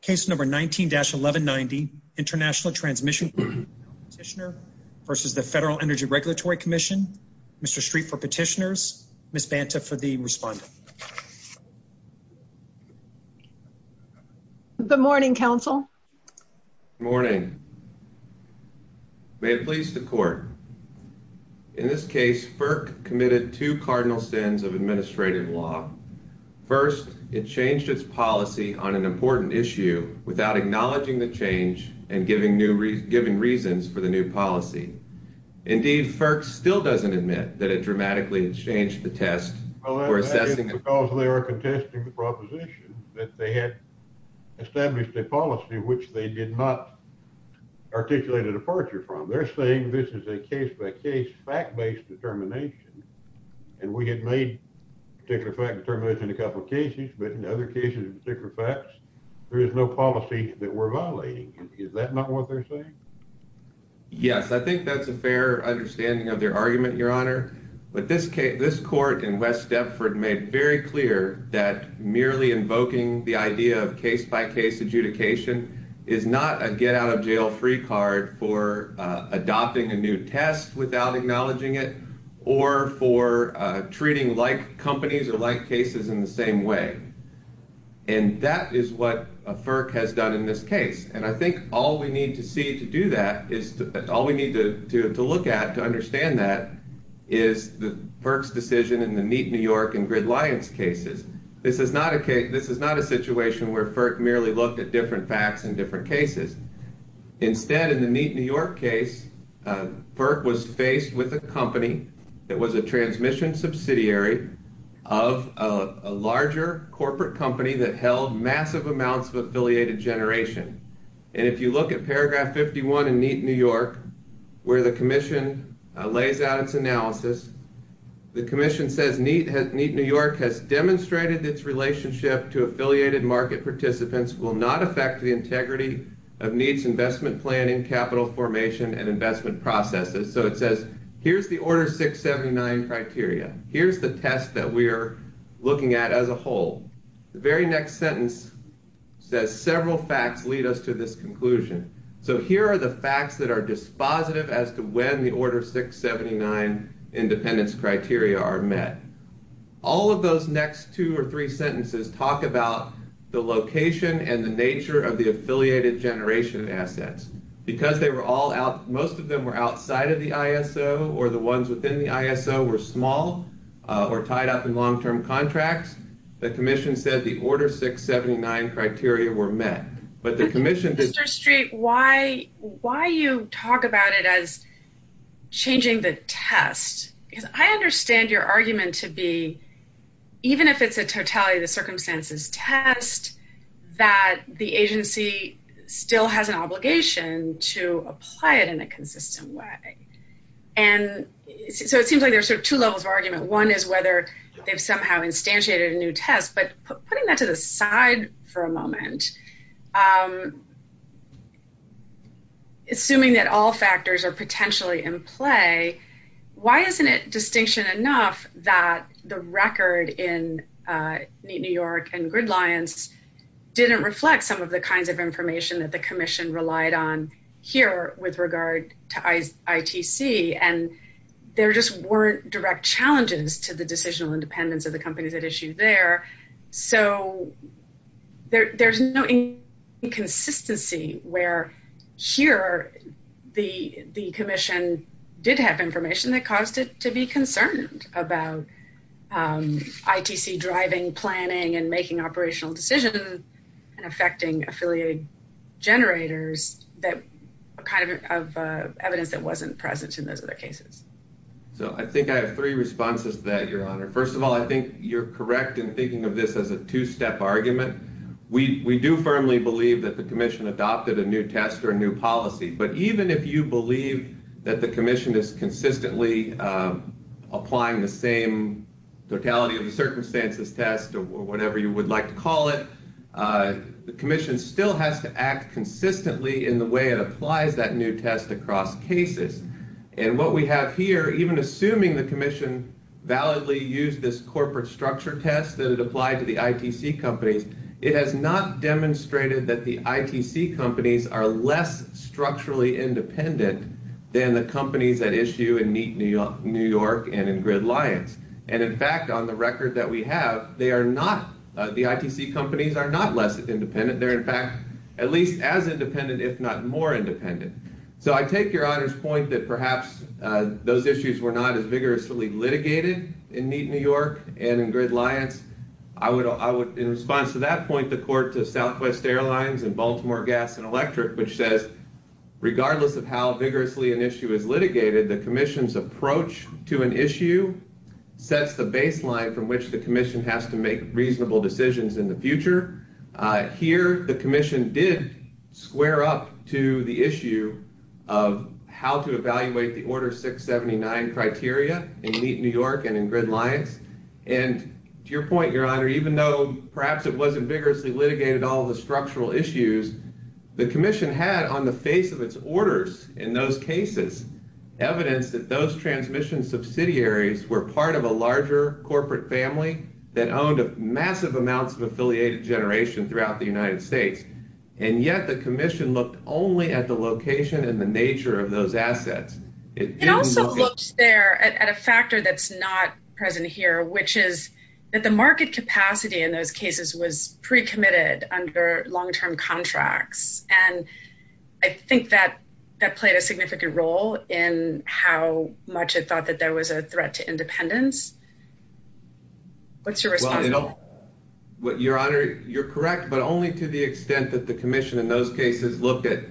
Case number 19-1190, International Transmission Competitioner v. Federal Energy Regulatory Commission. Mr. Streep for petitioners, Ms. Banta for being responding. Good morning, counsel. Good morning. May it please the court. In this case, FERC committed two cardinal sins of administrative law. First, it changed its policy on an important issue without acknowledging the change and giving reasons for the new policy. Indeed, FERC still doesn't admit that it dramatically has changed the test for assessing the... Well, that's because they are contesting the proposition that they had established a policy which they did not articulate a departure from. They're saying this is a case-by-case, fact-based determination. And we have made a particular fact determination in a couple of cases, but in other cases, in particular facts, there is no policy that we're violating. Is that not what they're saying? Yes. I think that's a fair understanding of their argument, Your Honor. But this court in West Deptford made very clear that merely invoking the idea of case-by-case adjudication is not a get-out-of-jail-free card for adopting a new test without acknowledging it or for treating like companies or like cases in the same way. And that is what FERC has done in this case. And I think all we need to see to do that is...all we need to look at to understand that is FERC's decision in the Neat New York and Gridlions cases. This is not a case...this is not a situation where FERC merely looked at different facts in different cases. Instead, in the Neat New York case, FERC was faced with a company that was a transmission subsidiary of a larger corporate company that held massive amounts of affiliated generation. And if you look at paragraph 51 in Neat New York, where the commission lays out its analysis, the commission says, Neat New York has demonstrated its relationship to affiliated market participants, will not affect the integrity of Neat's investment planning, capital formation, and investment processes. So it says, here's the Order 679 criteria. Here's the test that we're looking at as a whole. The very next sentence says, several facts lead us to this conclusion. So here are the facts that are dispositive as to when the Order 679 independence criteria are met. All of those next two or three sentences talk about the location and the nature of the affiliated generation assets. Because they were all out...most of them were outside of the ISO or the ones within the ISO were small or tied up in long-term contracts, the commission said the Order 679 criteria were met. But the commission... Mr. Street, why you talk about it as changing the test? Because I understand your argument to be, even if it's a totality of the circumstances test, that the agency still has an obligation to apply it in a consistent way. And so it seems like there's sort of two levels of argument. One is whether they've somehow instantiated a new test. But putting that to the side for a moment, assuming that all factors are potentially in play, why isn't it distinction enough that the record in Neat New York and Gridlions didn't reflect some of the kinds of information that the commission relied on here with regard to ITC? And there just weren't direct challenges to the decisional independence of the companies at issue there. So there's no inconsistency where here the commission did have information that caused it to be concerned about ITC driving, planning, and making operational decisions and affecting affiliated generators, that kind of evidence that wasn't present in those other cases. So I think I have three responses to that, Your Honor. First of all, I think you're correct in thinking of this as a two-step argument. We do firmly believe that the commission adopted a new test or a new policy. But even if you believe that the commission is consistently applying the same totality of the circumstances test or whatever you would like to call it, the commission still has to act consistently in the way it applies that new test across cases. And what we have here, even assuming the commission validly used this corporate structure test that is applied to the ITC companies, it has not demonstrated that the ITC companies are less structurally independent than the companies at issue in Neat New York and in Gridliance. And, in fact, on the record that we have, the ITC companies are not less independent. They're, in fact, at least as independent, if not more independent. So I take Your Honor's point that perhaps those issues were not as vigorously litigated in Neat New York and in Gridliance. I would, in response to that point, report to Southwest Airlines and Baltimore Gas and Electric, which says regardless of how vigorously an issue is litigated, the commission's approach to an issue sets the baseline from which the commission has to make reasonable decisions in the future. Here, the commission did square up to the issue of how to evaluate the Order 679 criteria in Neat New York and in Gridliance. And to your point, Your Honor, even though perhaps it wasn't vigorously litigated in all the structural issues, the commission had on the face of its orders in those cases evidence that those transmission subsidiaries were part of a larger corporate family that owned a massive amount of affiliated generation throughout the United States. And yet the commission looked only at the location and the nature of those assets. It didn't look... It also looked there at a factor that's not present here, which is that the market capacity in those cases was pre-committed under long-term contracts. And I think that played a significant role in how much it thought that there was a threat to independence. What's your response? Well, Your Honor, you're correct, but only to the extent that the commission in those cases looked at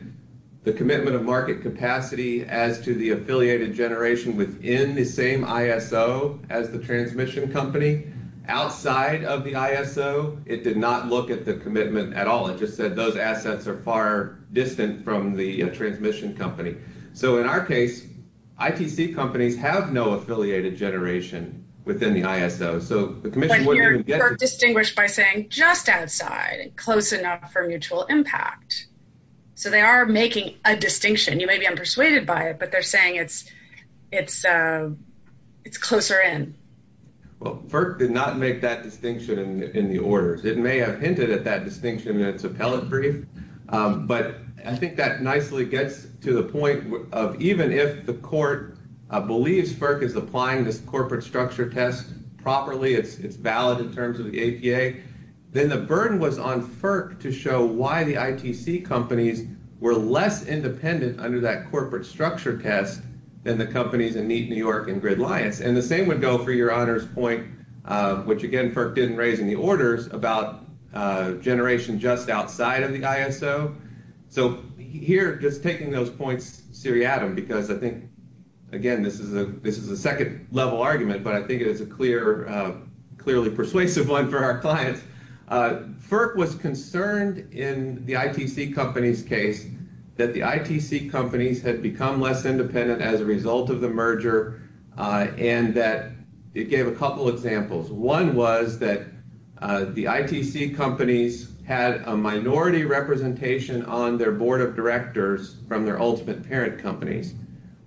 the commitment of market capacity as to the affiliated generation within the same ISO as the transmission company. Outside of the ISO, it did not look at the commitment at all. It just said those assets are far distant from the transmission company. So in our case, IPC companies have no affiliated generation within the ISO. But here FERC distinguished by saying just outside, close enough for mutual impact. So they are making a distinction. You may be unpersuaded by it, but they're saying it's closer in. Well, FERC did not make that distinction in the orders. It may have hinted at that distinction in its appellate brief. But I think that nicely gets to the point of even if the court believes FERC is applying the corporate structure test properly, it's valid in terms of the APA, then the burden was on FERC to show why the ITC companies were less independent under that corporate structure test than the companies that need New York and GridLions. And the same would go for Your Honor's point, which again, FERC didn't raise any orders about generation just outside of the ISO. So here, just taking those points seriatim, because I think, again, this is a second-level argument, but I think it is a clearly persuasive one for our clients. FERC was concerned in the ITC company's case that the ITC companies had become less independent as a result of the merger and that it gave a couple examples. One was that the ITC companies had a minority representation on their board of directors from their ultimate parent companies.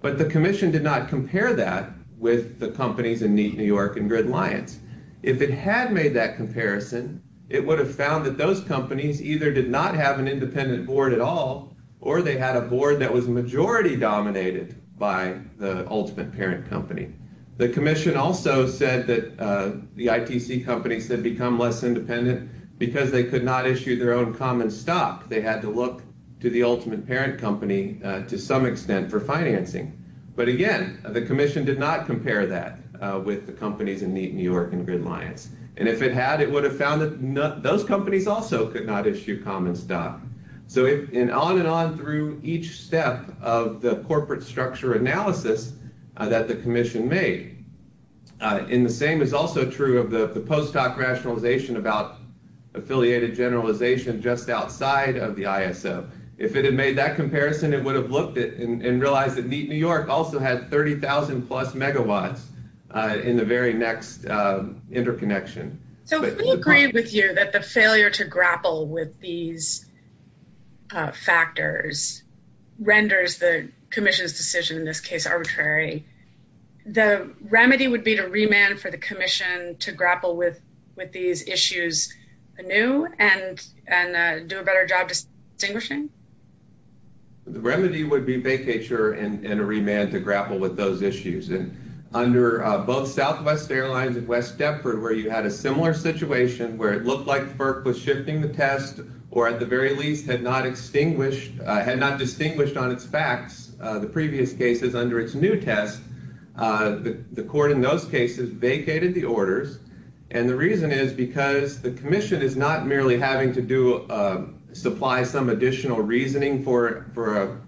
But the commission did not compare that with the companies in New York and GridLions. If it had made that comparison, it would have found that those companies either did not have an independent board at all or they had a board that was majority dominated by the ultimate parent company. The commission also said that the ITC companies had become less independent because they could not issue their own common stock. They had to look to the ultimate parent company to some extent for financing. But again, the commission did not compare that with the companies in New York and GridLions. And if it had, it would have found that those companies also could not issue common stock. So if, and on and on through each step of the corporate structure analysis that the commission made, and the same is also true of the post-doc rationalization about affiliated generalization just outside of the ISO. If it had made that comparison, it would have looked and realized that New York also has 30,000 plus megawatts in the very next interconnection. So we agree with you that the failure to grapple with these factors renders the commission's decision in this case arbitrary. The remedy would be to remand for the commission to grapple with these issues anew and do a better job distinguishing? The remedy would be vacature and a remand to grapple with those issues. And under both Southwest Airlines and West Stepford where you had a similar situation where it looked like FERC was shifting the test or at the very least had not extinguished, had not distinguished on its facts the previous cases under its new test, the court in those cases vacated the orders. And the reason is because the commission is not merely having to do, supply some additional reasoning for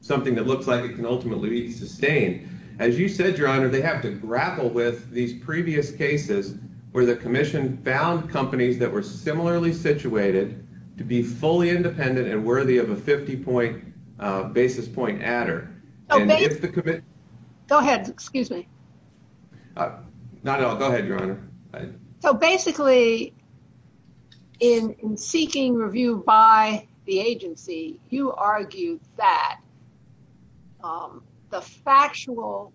something that looks like it can ultimately be sustained. As you said, Your Honor, they have to grapple with these previous cases where the commission found companies that were similarly situated to be fully independent and worthy of a 50-point basis point adder. Go ahead, excuse me. No, no, go ahead, Your Honor. So basically in seeking review by the agency, you argued that the factual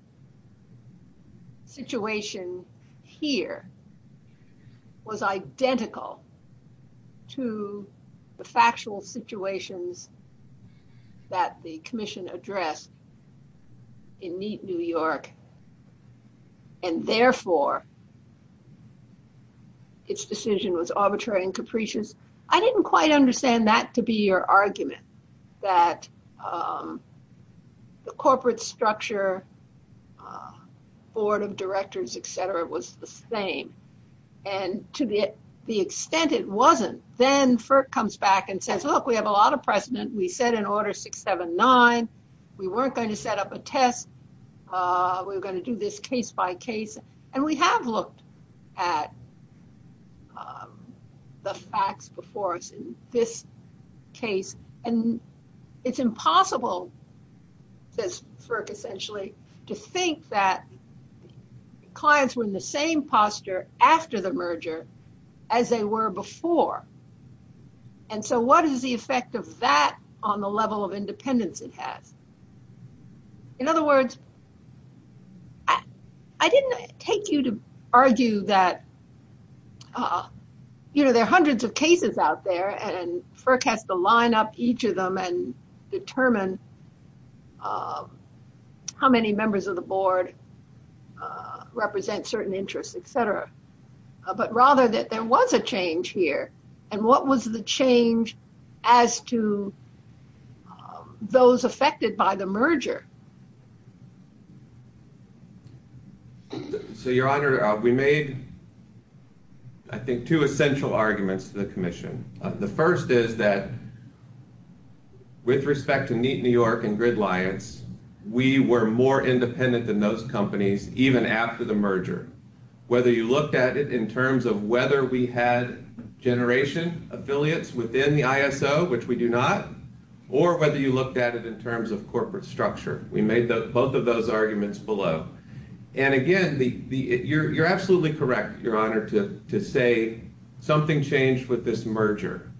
situation here was identical to the factual situations that the commission addressed in Neat, New York, and therefore its decision was arbitrary and capricious? I didn't quite understand that to be your argument, that the corporate structure, board of directors, et cetera, was the same. And to the extent it wasn't, then FERC comes back and says, look, we have a lot of precedent. We set an order 679. We weren't going to set up a test. We were going to do this case by case. And we have looked at the facts before us in this case. And it's impossible, says FERC essentially, to think that clients were in the same posture after the merger as they were before. And so what is the effect of that on the level of independence it had? In other words, I didn't take you to argue that there are hundreds of cases out there and FERC has to line up each of them and determine how many members of the board represent certain interests, et cetera, but rather that there was a change here. And what was the change as to those affected by the merger? So, Your Honor, we made, I think, two essential arguments to the commission. The first is that with respect to Neat New York and GridLions, we were more independent than those companies even after the merger. Whether you looked at it in terms of whether we had generation affiliates within the ISO, which we do not, or whether you looked at it in terms of corporate structure. We made both of those arguments below. And again, you're absolutely correct, Your Honor, to say something changed with this merger.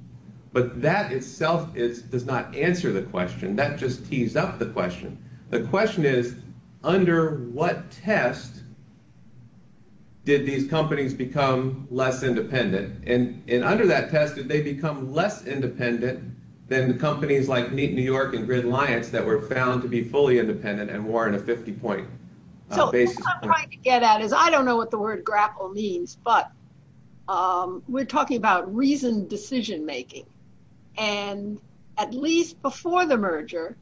But that itself does not answer the question. That just tees up the question. The question is, under what test did these companies become less independent? And under that test, did they become less independent than companies like Neat New York and GridLions that were found to be fully independent and more in a 50-point basis? So, what I'm trying to get at is I don't know what the word grapple means, but we're talking about reasoned decision-making. And at least before the merger,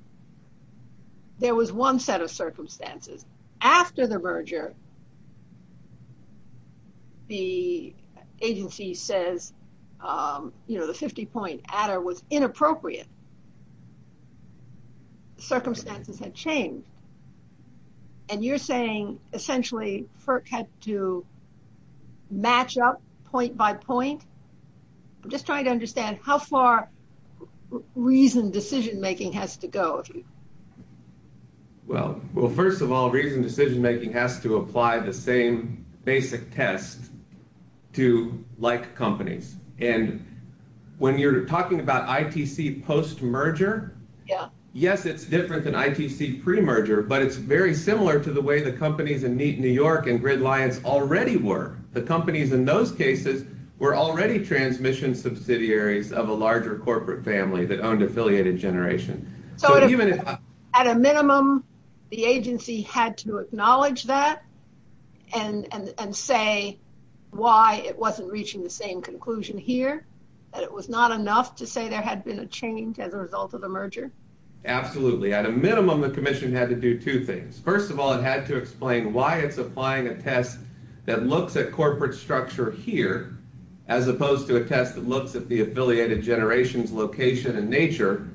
there was one set of circumstances. After the merger, the agency says, you know, the 50-point adder was inappropriate. Circumstances had changed. And you're saying essentially FERC had to match up point by point? I'm just trying to understand how far reasoned decision-making has to go. Well, first of all, reasoned decision-making has to apply the same basic test to like companies. And when you're talking about ITC post-merger, yes, it's different than ITC pre-merger, but it's very similar to the way the companies in Neat New York and GridLions already were. The companies in those cases were already transmission subsidiaries of a larger corporate family that owned affiliated generations. So, at a minimum, the agency had to acknowledge that and say why it wasn't reaching the same conclusion here, that it was not enough to say there had been a change as a result of the merger? Absolutely. At a minimum, the commission had to do two things. First of all, it had to explain why it's applying a test that looks at corporate structure here as opposed to a test that looks at the affiliated generation's location and nature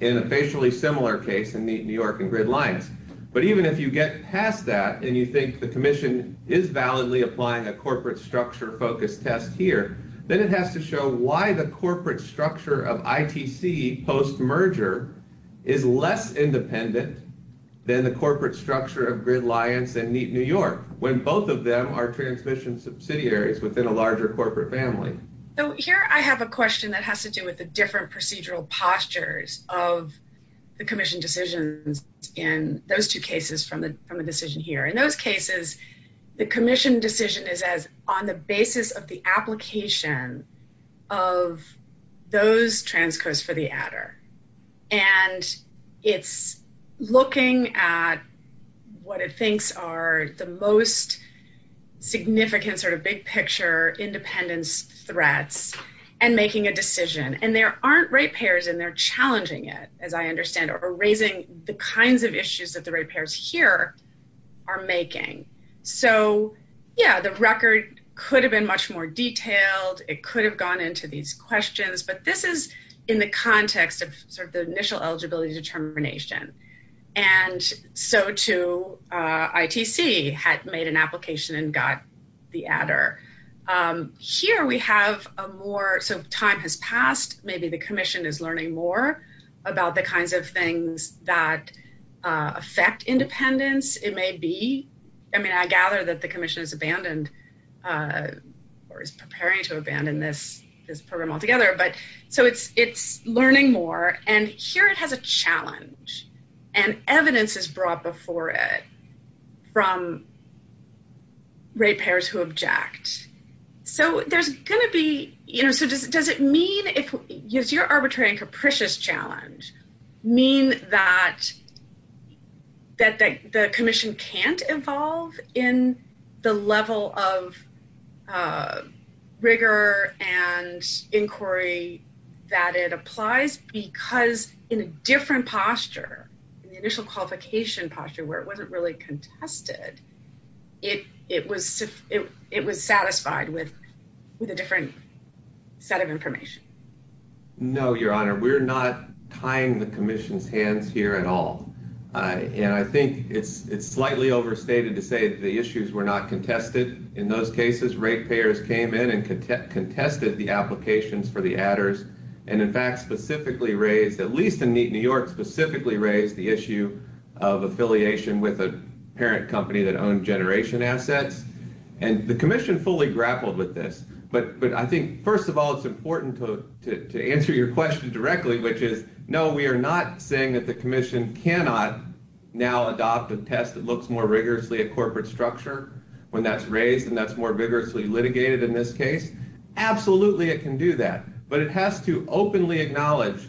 in a basically similar case in Neat New York and GridLions. But even if you get past that and you think the commission is validly applying a corporate structure-focused test here, then it has to show why the corporate structure of ITC post-merger is less independent than the corporate structure of GridLions and Neat New York when both of them are transmission subsidiaries within a larger corporate family. So, here I have a question that has to do with the different procedural postures of the commission decisions in those two cases from the decision here. In those cases, the commission decision is as on the basis of the application of those transfers for the adder. And it's looking at what it thinks are the most significant sort of big-picture independence threats and making a decision. And there aren't ratepayers in there challenging it, as I understand it, or raising the kinds of issues that the ratepayers here are making. So, yeah, the record could have been much more detailed. It could have gone into these questions. But this is in the context of sort of the initial eligibility determination. And so, too, ITC had made an application and got the adder. Here we have a more sort of time has passed. Maybe the commission is learning more about the kinds of things that affect independence. It may be. I mean, I gather that the commission has abandoned or is preparing to abandon this program altogether. So, it's learning more. And here it has a challenge. And evidence is brought before it from ratepayers who object. So, there's going to be, you know, so does it mean if your arbitrary and capricious challenge mean that the commission can't evolve in the level of rigor and inquiry that it applies because in a different posture, in the initial qualification posture where it wasn't really contested, it was satisfied with a different set of information? No, Your Honor. We're not tying the commission's hands here at all. And I think it's slightly overstated to say that the issues were not contested. In those cases, ratepayers came in and contested the applications for the adders and, in fact, specifically raised, at least in New York, specifically raised the issue of affiliation with a parent company that owned generation assets. And the commission fully grappled with this. But I think, first of all, it's important to answer your question directly, which is, no, we are not saying that the commission cannot now adopt a test that looks more rigorously at corporate structure when that's raised and that's more vigorously litigated in this case. Absolutely it can do that. But it has to openly acknowledge,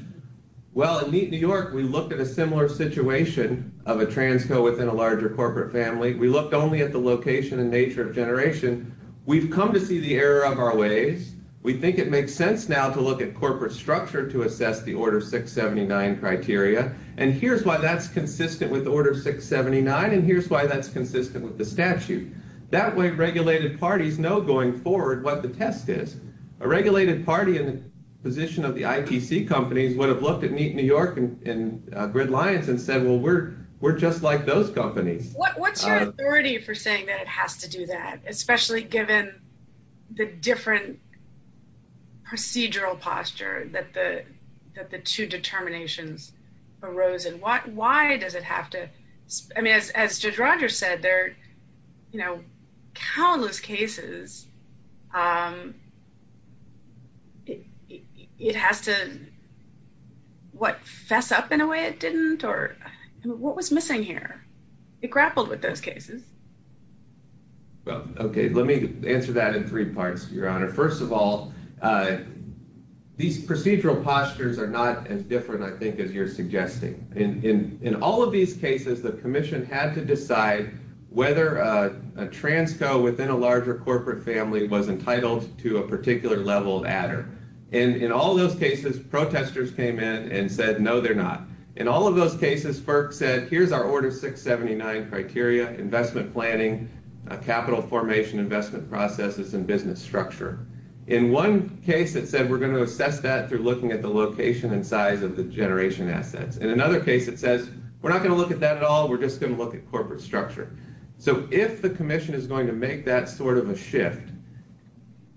well, in Neat New York, we looked at a similar situation of a transco within a larger corporate family. We looked only at the location and nature of generation. We've come to see the error of our ways. We think it makes sense now to look at corporate structure to assess the Order 679 criteria. And here's why that's consistent with Order 679, and here's why that's consistent with the statute. That way, regulated parties know going forward what the test is. A regulated party in the position of the IPC company would have looked at Neat New York and Bridge Alliance and said, well, we're just like those companies. What's your authority for saying that it has to do that, especially given the different procedural posture that the two determinations arose in? Why does it have to? I mean, as Judge Rogers said, there are countless cases. It has to, what, fess up in a way it didn't? Or what was missing here? It grappled with those cases. Okay. Let me answer that in three parts, Your Honor. First of all, these procedural postures are not as different, I think, as you're suggesting. In all of these cases, the Commission had to decide whether a transco within a larger corporate family was entitled to a particular level of adder. And in all those cases, protesters came in and said, no, they're not. In all of those cases, FERC said, here's our Order 679 criteria, investment planning, capital formation, investment processes, and business structure. In one case, it said, we're going to assess that through looking at the location and size of the generation assets. In another case, it says, we're not going to look at that at all. We're just going to look at corporate structure. So if the Commission is going to make that sort of a shift,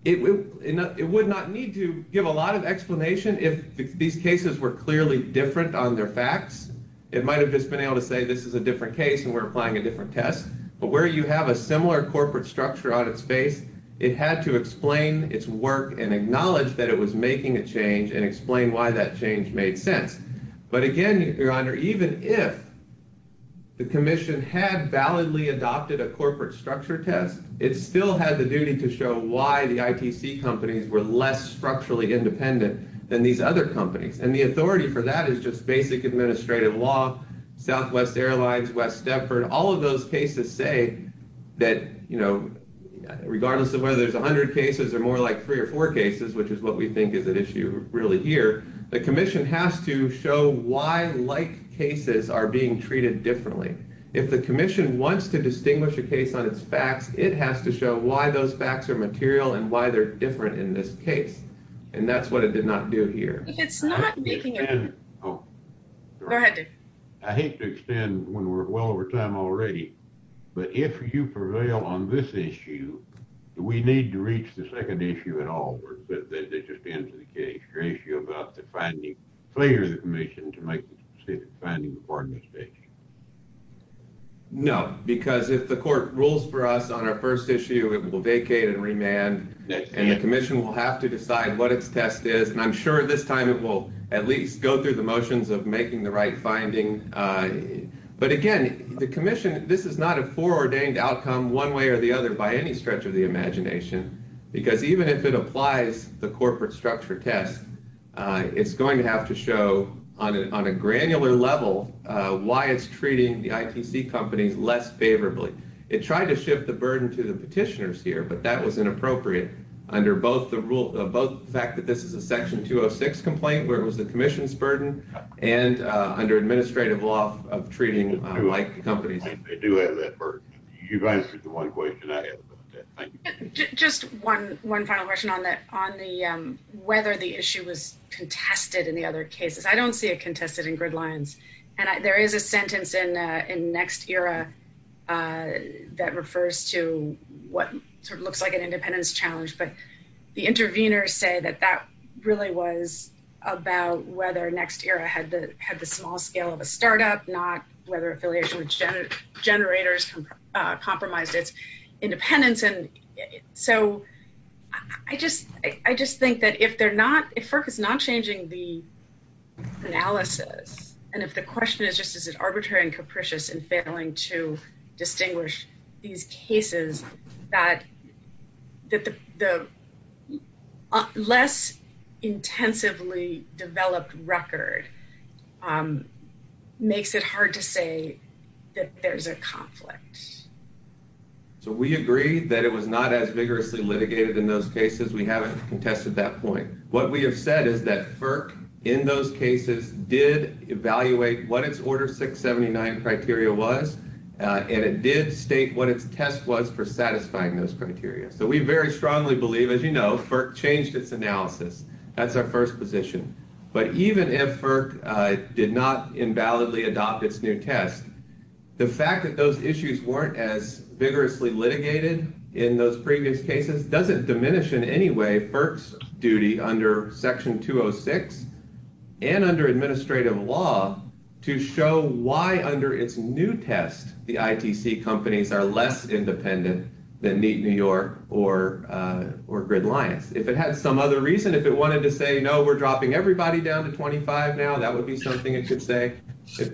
it would not need to give a lot of explanation if these cases were clearly different on their facts. It might have just been able to say, this is a different case and we're applying a different test. But where you have a similar corporate structure out of space, it had to explain its work and acknowledge that it was making a change and explain why that change made sense. But again, Your Honor, even if the Commission had validly adopted a corporate structure test, it still has a duty to show why the IPC companies were less structurally independent than these other companies. And the authority for that is just basic administrative law, Southwest Airlines, West Denver. All of those cases say that, you know, regardless of whether it's 100 cases or more like three or four cases, which is what we think is at issue really here, the Commission has to show why like cases are being treated differently. If the Commission wants to distinguish a case on its facts, it has to show why those facts are material and why they're different in this case. And that's what it did not do here. Go ahead, Dick. I hate to extend when we're well over time already, but if you prevail on this issue, we need to reach the second issue in the case. Your issue about the finding. No, because if the court rules for us on our first issue, it will vacate and remand. And the Commission will have to decide what its test is. And I'm sure this time it will at least go through the motions of making the right findings. But again, the Commission, this is not a foreordained outcome one way or the other by any stretch of the imagination. Because even if it applies the corporate structure test, it's going to have to show on a granular level why it's treating the ITC company less favorably. It tried to shift the burden to the petitioners here, but that was inappropriate under both the fact that this is a Section 206 complaint where it was the Commission's burden and under administrative law of treating IT companies. They do have that burden. You've answered the one question. Just one final question on whether the issue was contested in the other cases. I don't see it contested in gridlines. And there is a sentence in Next Era that refers to what sort of looks like an independence challenge. But the interveners say that that really was about whether Next Era had the small scale of a startup, not whether affiliation with generators compromises independence. And so I just think that if FERC is not changing the analysis and if the question is just is it arbitrary and capricious in So we agree that it was not as vigorously litigated in those cases. We haven't contested that point. What we have said is that FERC in those cases did evaluate what its Order 679 criteria was and it did state what its test was for satisfying those criteria. So we very strongly believe, as you know, FERC changed its analysis. That's our first position. But even if FERC did not invalidly adopt its new test, the fact that those issues weren't as vigorously litigated in those previous cases doesn't diminish in any way FERC's duty under Section 206 and under administrative law to show why under its new test the ITC companies are less independent than Meet New York or Gridlines. If it had some other reason, if it wanted to say, no, we're dropping everybody down to 25 now, that would be something it could say.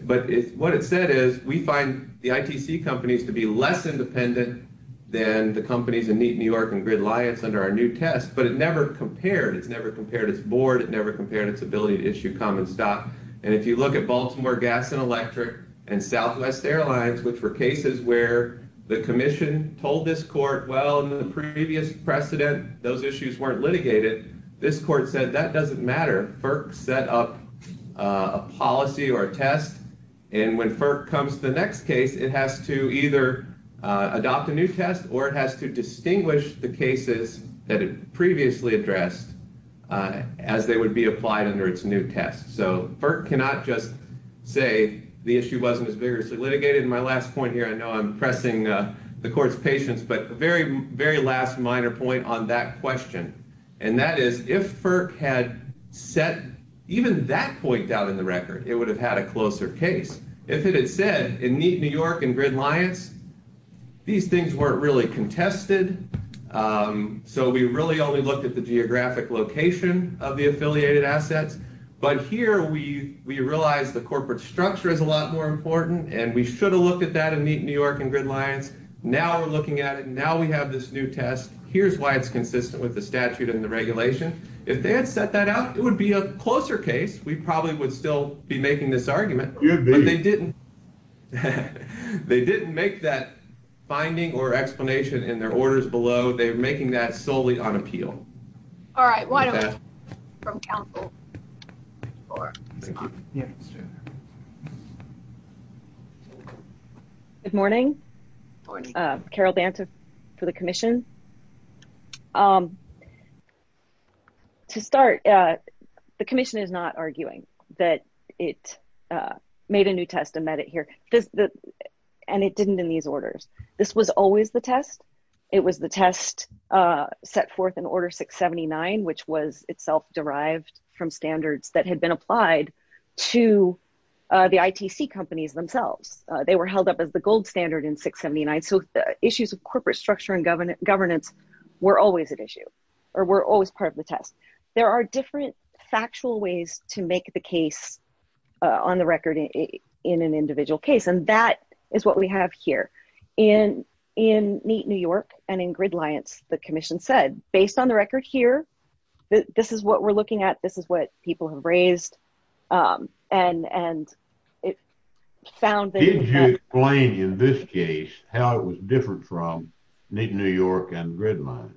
But what it said is we find the ITC companies to be less independent than the company to Meet New York and Gridlines under our new test. But it never compared. It never compared its board. It never compared its ability to issue common stock. And if you look at Baltimore Gas and Electric and Southwest Airlines, which were cases where the commission told this court, well, in the previous precedent, those issues weren't litigated, this court said that doesn't matter. FERC set up a policy or a test. And when FERC comes to the next case, it has to either adopt a new test or it has to distinguish the cases that it previously addressed as they would be applied under its new test. So FERC cannot just say the issue wasn't as vigorously litigated. And my last point here, I know I'm pressing the court's patience, but very, very last minor point on that question. And that is if FERC had set even that point out of the record, it would have had a closer case. If it had said in Meet New York and Gridlines, these things weren't really contested. So we really only looked at the geographic location of the affiliated assets. But here we realize the corporate structure is a lot more important, and we should have looked at that in Meet New York and Gridlines. Now we're looking at it, and now we have this new test. Here's why it's consistent with the statute and the regulation. If they had set that out, it would be a closer case. We probably would still be making this argument. But they didn't make that finding or explanation in their orders below. They were making that solely on appeal. All right. Why don't we hear from counsel? Good morning. Carol Banta for the commission. To start, the commission is not arguing that it made a new test and met it here, and it didn't in these orders. This was always the test. It was the test set forth in Order 679, which was itself derived from standards that had been applied to the ITC companies themselves. They were held up as the gold standard in 679. So issues of corporate structure and governance were always an issue or were always part of the test. There are different factual ways to make the case on the record in an individual case, and that is what we have here. In Neat New York and in Gridliance, the commission said, based on the record here, this is what we're looking at. This is what people have raised. Did you explain in this case how it was different from Neat New York and Gridliance?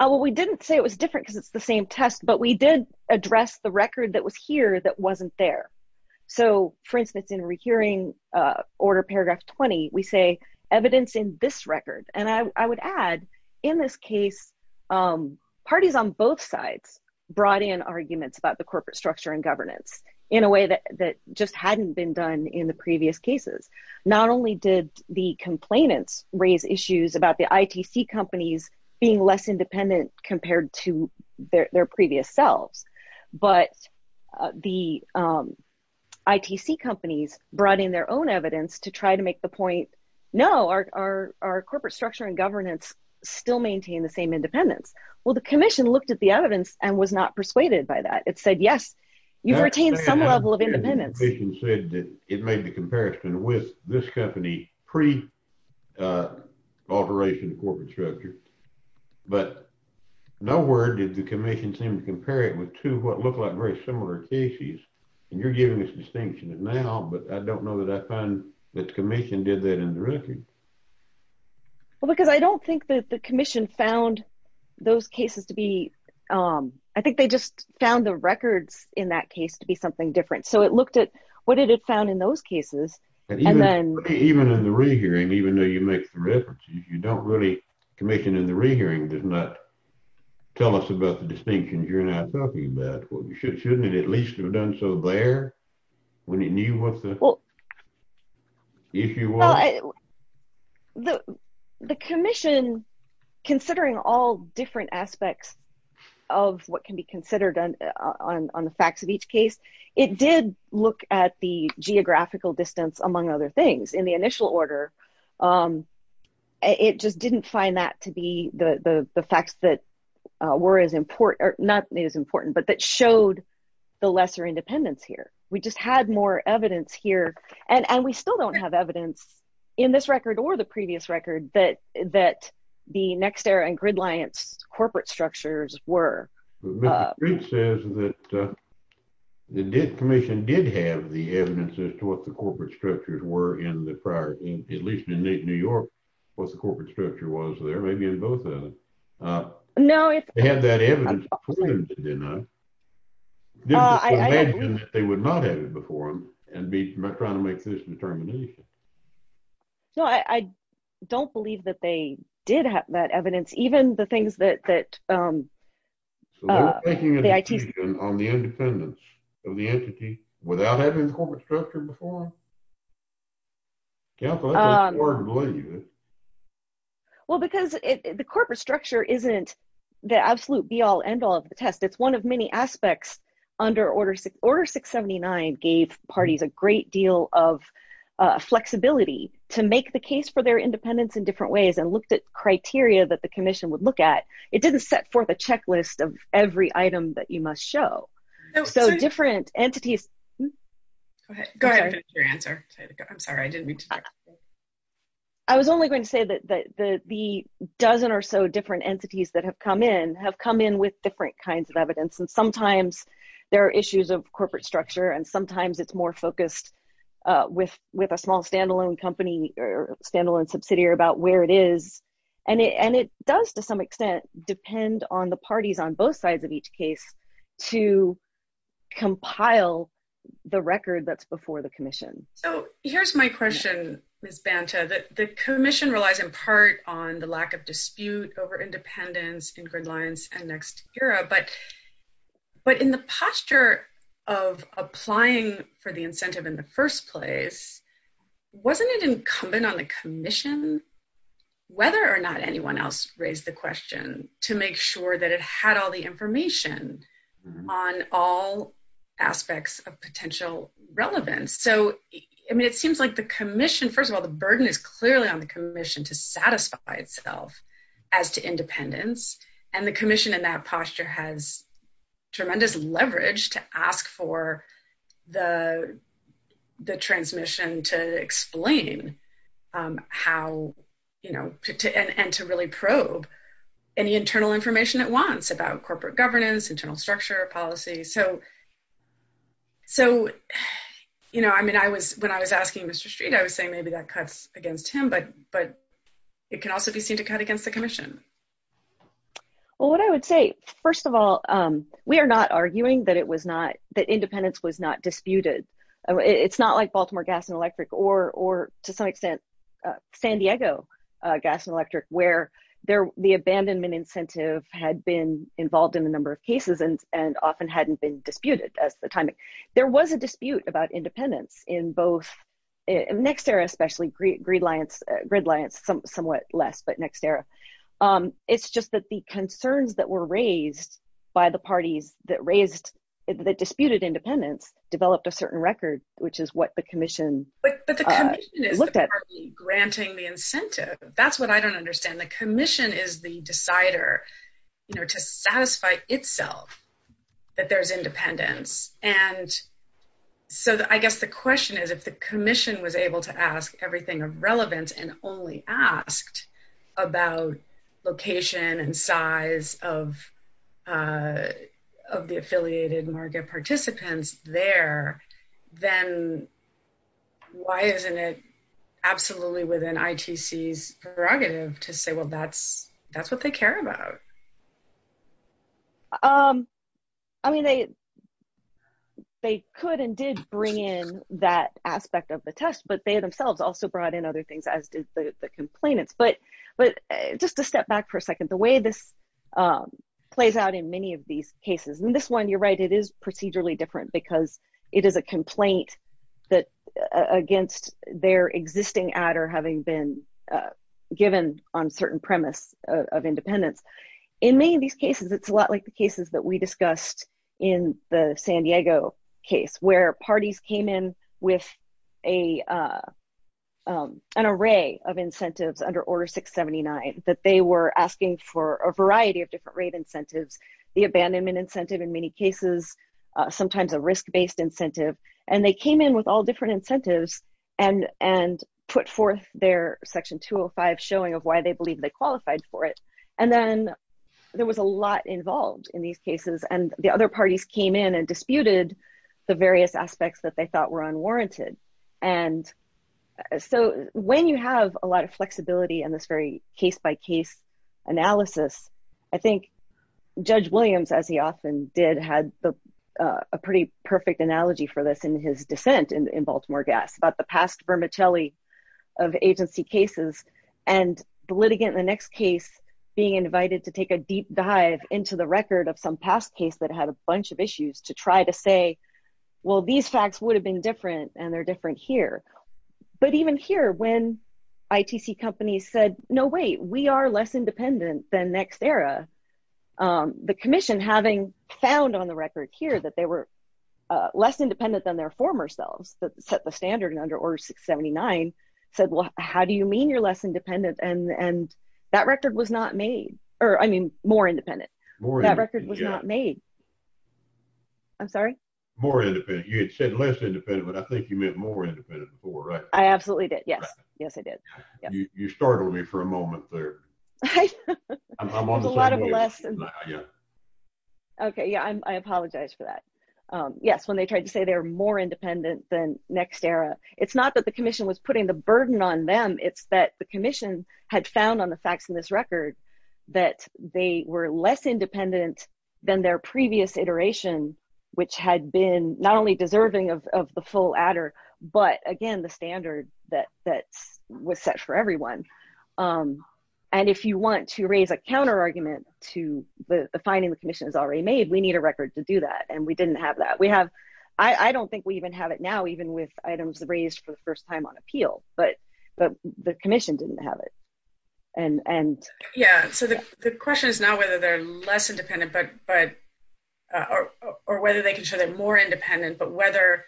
Well, we didn't say it was different because it's the same test, but we did address the record that was here that wasn't there. So, for instance, in Rehearing Order Paragraph 20, we say evidence in this record. And I would add, in this case, parties on both sides brought in arguments about the corporate structure and governance in a way that just hadn't been done in the previous cases. Not only did the complainants raise issues about the ITC companies being less independent compared to their previous selves, but the ITC companies brought in their own evidence to try to make the point, no, our corporate structure and governance still maintain the same independence. Well, the commission looked at the evidence and was not persuaded by that. It said, yes, you retain some level of independence. The commission said that it made the comparison with this company pre-operation corporate structure. But nowhere did the commission seem to compare it with two of what looked like very similar cases. And you're giving us a distinction now, but I don't know that I find that the commission did that in the record. Well, because I don't think that the commission found those cases to be – I think they just found the records in that case to be something different. So it looked at what it had found in those cases and then – Even in the rehearing, even though you make the reference, you don't really – the commission in the rehearing did not tell us about the distinction you're now talking about. Shouldn't it at least have done so there when it knew what the – if you were – The commission, considering all different aspects of what can be considered on the facts of each case, it did look at the geographical distance among other things. In the initial order, it just didn't find that to be the facts that were as – not as important, but that showed the lesser independence here. We just had more evidence here, and we still don't have evidence in this record or the previous record that the Nexter and Gridliant corporate structures were. But it says that the commission did have the evidence as to what the corporate structures were in the prior – at least in New York, what the corporate structure was there, maybe in both of them. No, it's – They had that evidence for them to deny. They would not have it before them and be metronomically disinterminated. No, I don't believe that they did have that evidence, even the things that – So they were making a decision on the independence of the entity without having the corporate structure before them? Well, because the corporate structure isn't the absolute be-all, end-all of the test. It's one of many aspects under Order 679 gave parties a great deal of flexibility to make the case for their independence in different ways and looked at criteria that the commission would look at. It didn't set forth a checklist of every item that you must show. So different entities – Go ahead. I'm sorry, I didn't mean to interrupt. I was only going to say that the dozen or so different entities that have come in have come in with different kinds of evidence. And sometimes there are issues of corporate structure, and sometimes it's more focused with a small standalone company or standalone subsidiary about where it is. And it does, to some extent, depend on the parties on both sides of each case to compile the record that's before the commission. Oh, here's my question, Ms. Banta. The commission relies in part on the lack of dispute over independence, Stingray Alliance, and NextEra. But in the posture of applying for the incentive in the first place, wasn't it incumbent on the commission, whether or not anyone else raised the question, to make sure that it had all the information on all aspects of potential relevance? It seems like the commission – first of all, the burden is clearly on the commission to satisfy itself as to independence. And the commission in that posture has tremendous leverage to ask for the transmission to explain how – and to really probe any internal information it wants about corporate governance, internal structure, policy. So, I mean, when I was asking Mr. Street, I was saying maybe that cuts against him, but it can also be seen to cut against the commission. Well, what I would say, first of all, we are not arguing that it was not – that independence was not disputed. It's not like Baltimore Gas and Electric or, to some extent, San Diego Gas and Electric, where the abandonment incentive had been involved in a number of cases and often hadn't been disputed at the time. There was a dispute about independence in both – NextEra, especially, GridLiance, somewhat less, but NextEra. It's just that the concerns that were raised by the parties that raised – that disputed independence developed a certain record, which is what the commission looked at. But the commission is the party granting the incentive. That's what I don't understand. And the commission is the decider to satisfy itself that there's independence. So, I guess the question is, if the commission was able to ask everything of relevance and only asked about location and size of the affiliated market participants there, then why isn't it absolutely within ITC's prerogative to say, well, that's what they care about? I mean, they could and did bring in that aspect of the test, but they themselves also brought in other things, as did the complainants. But just to step back for a second, the way this plays out in many of these cases – and this one, you're right, it is procedurally different because it is a complaint against their existing adder having been given on certain premise of independence. In many of these cases, it's a lot like the cases that we discussed in the San Diego case, where parties came in with an array of incentives under Order 679, that they were asking for a variety of different rate incentives – the abandonment incentive in many cases, sometimes a risk-based incentive. And they came in with all different incentives and put forth their Section 205 showing of why they believed they qualified for it. And then there was a lot involved in these cases, and the other parties came in and disputed the various aspects that they thought were unwarranted. And so when you have a lot of flexibility in this very case-by-case analysis, I think Judge Williams, as he often did, had a pretty perfect analogy for this in his dissent in Baltimore Gas about the past vermicelli of agency cases and the litigant in the next case being invited to take a deep dive into the record of some past case that had a bunch of issues to try to say, well, these facts would have been different, and they're different here. But even here, when ITC companies said, no, wait, we are less independent than next era, the Commission, having found on the record here that they were less independent than their former selves that set the standard under Order 679, said, well, how do you mean you're less independent? And that record was not made – or, I mean, more independent. That record was not made. I'm sorry? More independent. You had said less independent, but I think you meant more independent before, right? I absolutely did, yes. Yes, I did. You startled me for a moment there. A lot of lessons. Okay, yeah, I apologize for that. Yes, when they tried to say they were more independent than next era, it's not that the Commission was putting the burden on them. It's that the Commission had found on the facts in this record that they were less independent than their previous iteration, which had been not only deserving of the full adder, but, again, the standard that was set for everyone. And if you want to raise a counterargument to the finding the Commission has already made, we need a record to do that, and we didn't have that. We have – I don't think we even have it now, even with items raised for the first time on appeal, but the Commission didn't have it. Yeah, so the question is not whether they're less independent, but – or whether they can show they're more independent, but whether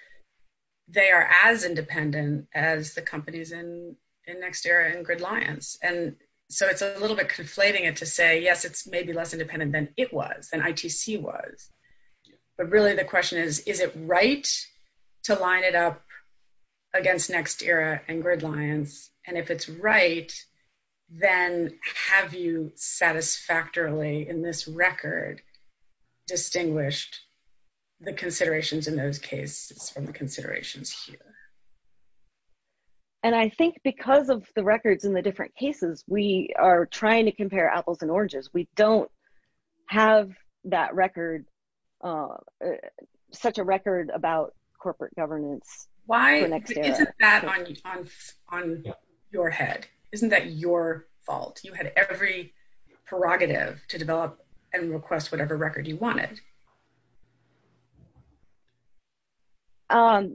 they are as independent as the companies in next era and GridLions. And so it's a little bit conflating it to say, yes, it's maybe less independent than it was, than ITC was. But really the question is, is it right to line it up against next era and GridLions? And if it's right, then have you satisfactorily in this record distinguished the considerations in those cases from the considerations here? And I think because of the records in the different cases, we are trying to compare apples and oranges. We don't have that record – such a record about corporate governance. Why isn't that on your head? Isn't that your fault? You had every prerogative to develop and request whatever record you wanted. I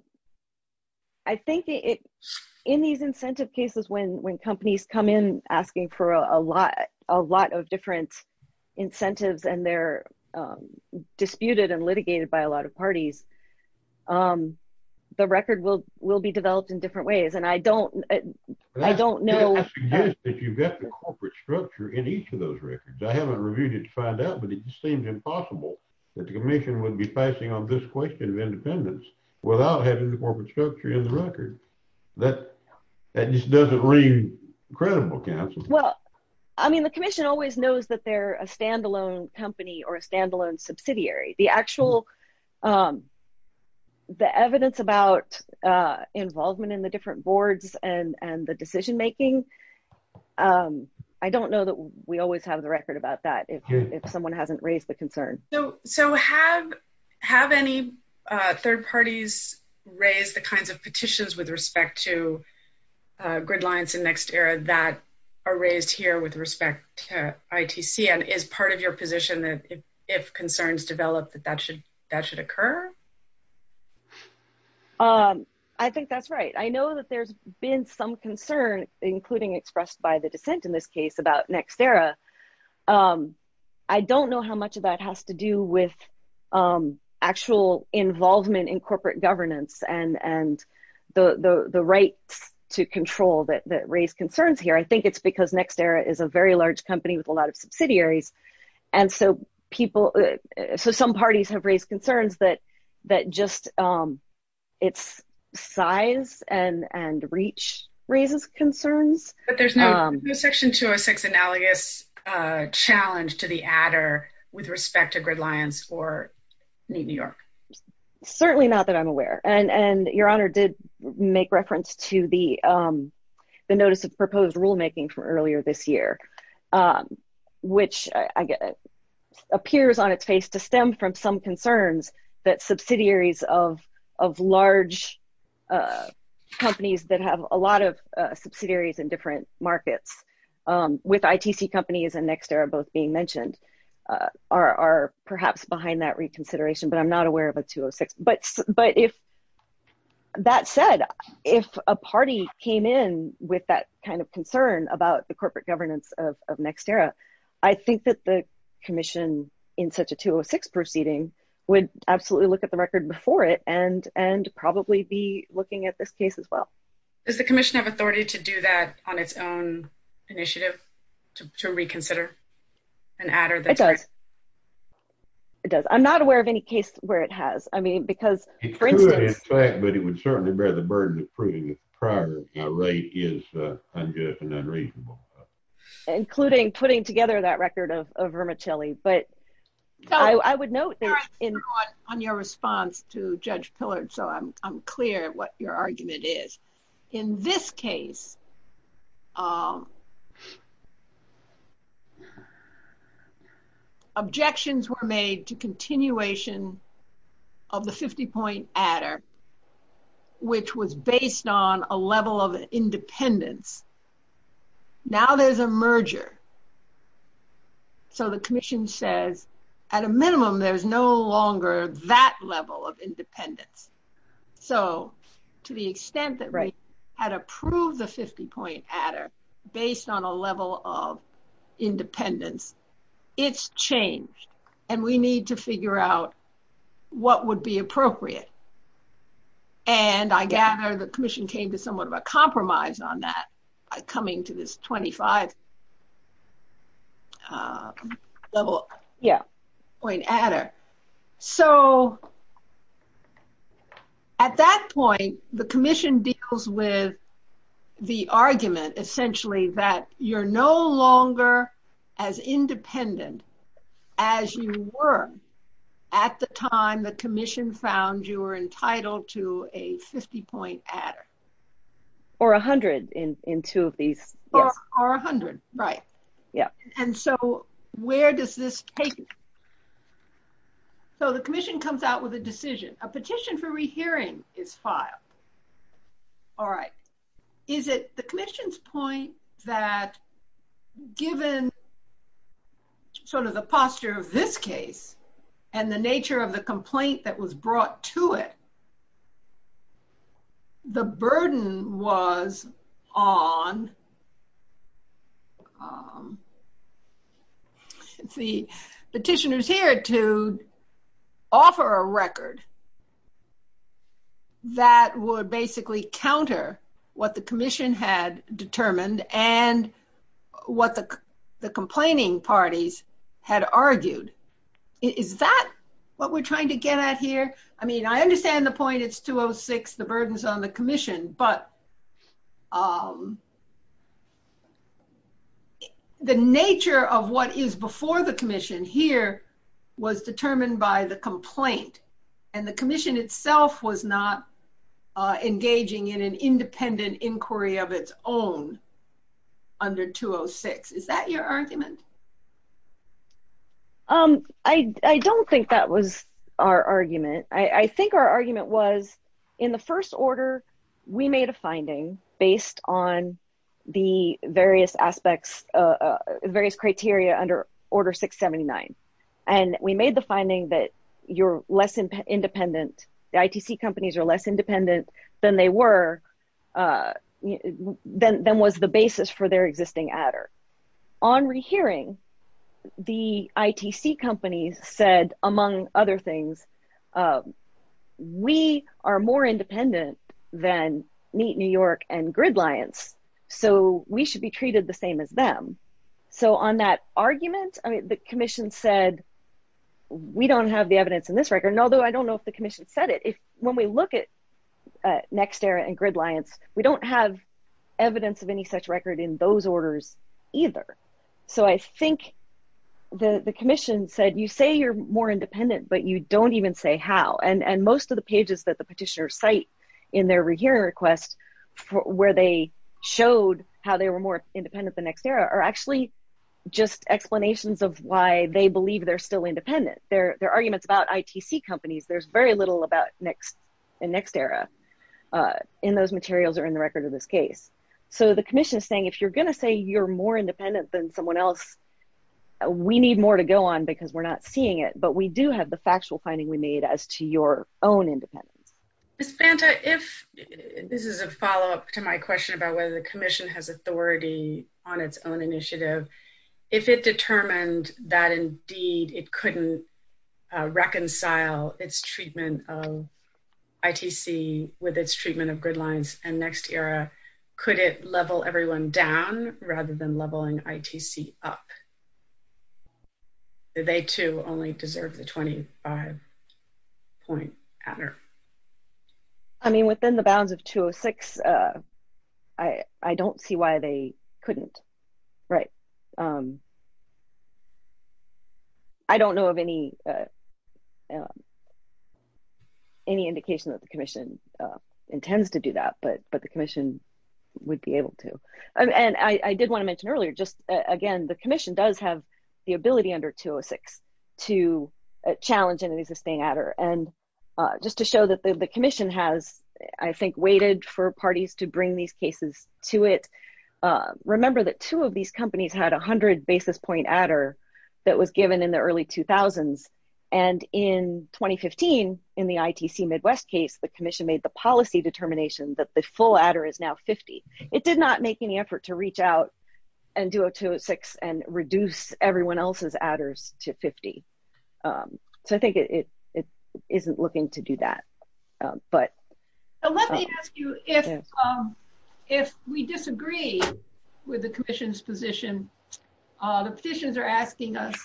think in these incentive cases, when companies come in asking for a lot of different incentives and they're disputed and litigated by a lot of parties, the record will be developed in different ways. And I don't know – I mean, if you've got the corporate structure in each of those records – I haven't reviewed it to find out, but it just seems impossible that the commission would be passing on this question of independence without having the corporate structure in the record. That just doesn't ring credible, Counsel. Well, I mean, the commission always knows that they're a stand-alone company or a stand-alone subsidiary. The actual – the evidence about involvement in the different boards and the decision-making – I don't know that we always have the record about that if someone hasn't raised the concern. So, have any third parties raised the kinds of petitions with respect to gridlines and NextEra that are raised here with respect to ITC? And is part of your position that if concerns develop, that that should occur? I think that's right. I know that there's been some concern, including expressed by the defense in this case, about NextEra. I don't know how much of that has to do with actual involvement in corporate governance and the right to control that raised concerns here. I think it's because NextEra is a very large company with a lot of subsidiaries. And so, people – so, some parties have raised concerns that just its size and reach raises concerns. But there's no Section 206 analogous challenge to the adder with respect to gridlines for New York? Certainly not that I'm aware. And Your Honor did make reference to the notice of proposed rulemaking from earlier this year, which appears on its face to stem from some concerns that subsidiaries of large companies that have a lot of subsidiaries in different markets with ITC companies and NextEra both being mentioned are perhaps behind that reconsideration. But I'm not aware of a 206. But if – that said, if a party came in with that kind of concern about the corporate governance of NextEra, I think that the commission in such a 206 proceeding would absolutely look at the record before it and probably be looking at this case as well. Does the commission have authority to do that on its own initiative, to reconsider an adder? It does. It does. I'm not aware of any case where it has. I mean, because – It's true in effect, but it would certainly bear the burden of proving its prior rate is unjust and unreasonable. Including putting together that record of vermicelli. But I would note that – I'm not on your response to Judge Pillard, so I'm clear what your argument is. In this case, objections were made to continuation of the 50-point adder, which was based on a level of independence. Now there's a merger. So the commission says, at a minimum, there's no longer that level of independence. So to the extent that Rice had approved the 50-point adder based on a level of independence, it's changed. And we need to figure out what would be appropriate. And I gather the commission came to somewhat of a compromise on that by coming to this 25-point adder. So at that point, the commission deals with the argument, essentially, that you're no longer as independent as you were at the time the commission found you were entitled to a 50-point adder. Or 100 in two of these. Or 100. Right. And so where does this take us? So the commission comes out with a decision. A petition for rehearing is filed. All right. Is it the commission's point that given sort of the posture of this case and the nature of the complaint that was brought to it, the burden was on the petitioners here to offer a record that would basically counter what the commission had determined and what the complaining parties had argued? Is that what we're trying to get at here? I mean, I understand the point, it's 206, the burden's on the commission, but the nature of what is before the commission here was determined by the complaint. And the commission itself was not engaging in an independent inquiry of its own under 206. Is that your argument? I don't think that was our argument. I think our argument was in the first order, we made a finding based on the various aspects, various criteria under Order 679. And we made the finding that you're less independent, the ITC companies are less independent than they were, than was the basis for their existing adder. On rehearing, the ITC companies said, among other things, we are more independent than Meet New York and Gridliance, so we should be treated the same as them. So on that argument, the commission said, we don't have the evidence in this record. And although I don't know if the commission said it, when we look at NextEra and Gridliance, we don't have evidence of any such record in those orders either. So I think the commission said, you say you're more independent, but you don't even say how. And most of the pages that the petitioner cite in their rehearing request, where they showed how they were more independent than NextEra, are actually just explanations of why they believe they're still independent. They're arguments about ITC companies. There's very little about NextEra in those materials or in the record of this case. So the commission is saying, if you're going to say you're more independent than someone else, we need more to go on because we're not seeing it. But we do have the factual finding we made as to your own independence. Santa, if this is a follow up to my question about whether the commission has authority on its own initiative, if it determined that indeed it couldn't reconcile its treatment of ITC with its treatment of Gridliance and NextEra, could it level everyone down rather than leveling ITC up? Do they, too, only deserve the 25 point counter? I mean, within the bounds of 206, I don't see why they couldn't. Right. I don't know of any indication that the commission intends to do that, but the commission would be able to. And I did want to mention earlier, just again, the commission does have the ability under 206 to challenge an existing adder. And just to show that the commission has, I think, waited for parties to bring these cases to it. Remember that two of these companies had 100 basis point adder that was given in the early 2000s. And in 2015, in the ITC Midwest case, the commission made the policy determination that the full adder is now 50. It did not make any effort to reach out and do a 206 and reduce everyone else's adders to 50. So I think it isn't looking to do that. So let me ask you, if we disagree with the commission's position, the positions are asking us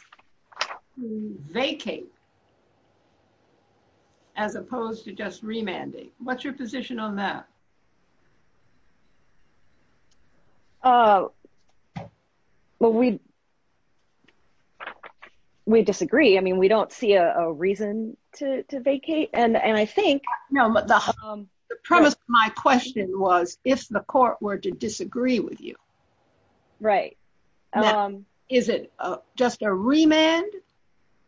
to vacate as opposed to just remanding. What's your position on that? Well, we disagree. I mean, we don't see a reason to vacate. And I think... No, but the premise of my question was, if the court were to disagree with you... Right. Is it just a remand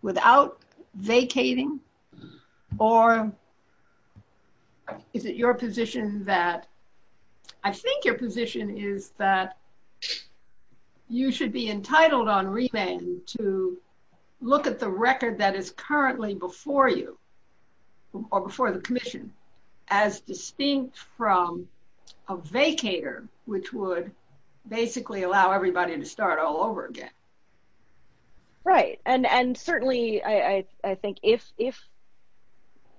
without vacating? Or is it your position that... I think your position is that you should be entitled on remand to look at the record that is currently before you, or before the commission, as distinct from a vacater, which would basically allow everybody to start all over again. Right. And certainly, I think if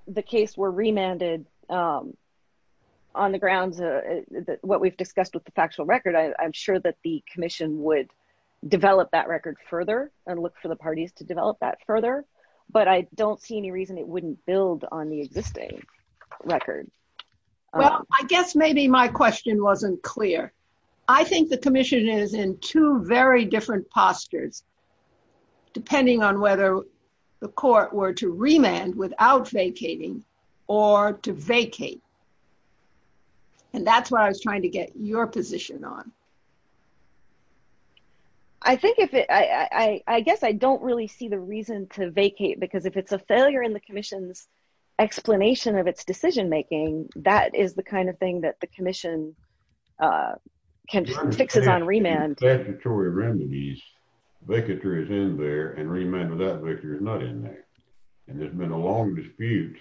the case were remanded on the ground, what we've discussed with the factual record, I'm sure that the commission would develop that record further and look for the parties to develop that further. But I don't see any reason it wouldn't build on the existing. Well, I guess maybe my question wasn't clear. I think the commission is in two very different postures, depending on whether the court were to remand without vacating or to vacate. And that's what I was trying to get your position on. I think if it... I guess I don't really see the reason to vacate, because if it's a failure in the commission's explanation of its decision making, that is the kind of thing that the commission can fix it on remand. In statutory remedies, vacater is in there, and remand without vacater is not in there. And there's been a long dispute,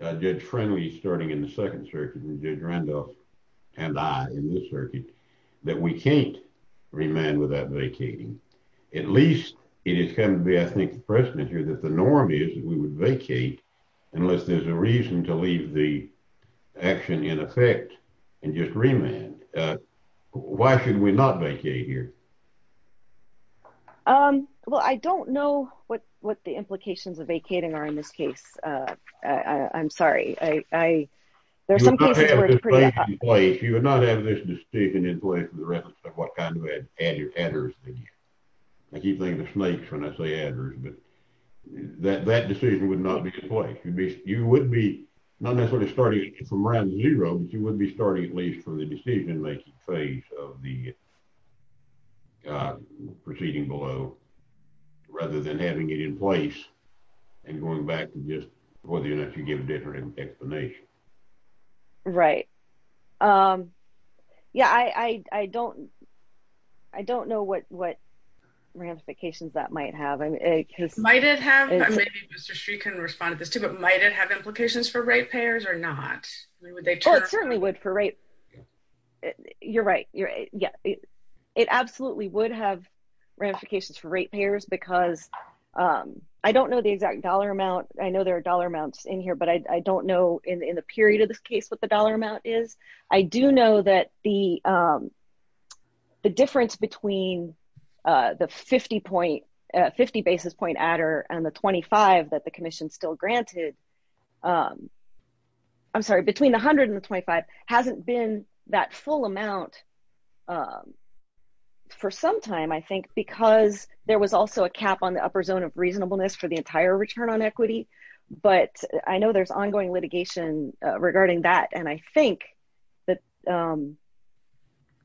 Judge Friendly starting in the second circuit and Judge Randolph and I in this circuit, that we can't remand without vacating. At least it is kind of the ethnic precedent here that the norm is that we would vacate unless there's a reason to leave the action in effect and just remand. Why should we not vacate here? Well, I don't know what the implications of vacating are in this case. I'm sorry. You would not have this decision in place with the reference to what kind of adders they use. I keep saying the snakes when I say adders, but that decision would not be in place. You would be, not necessarily starting from round zero, but you would be starting at least from the decision making phase of the proceeding below, rather than having it in place and going back to just whether or not you give a different explanation. Right. Yeah, I don't know what ramifications that might have. Might it have implications for rate payers or not? It certainly would for rate payers. You're right. It absolutely would have ramifications for rate payers because I don't know the exact dollar amount. I know there are dollar amounts in here, but I don't know in the period of this case what the dollar amount is. I do know that the difference between the 50 basis point adder and the 25 that the commission still granted, I'm sorry, between the $100 and the $25 hasn't been that full amount for some time, I think, because there was also a cap on the upper zone of reasonableness for the entire return on equity. But I know there's ongoing litigation regarding that, and I think that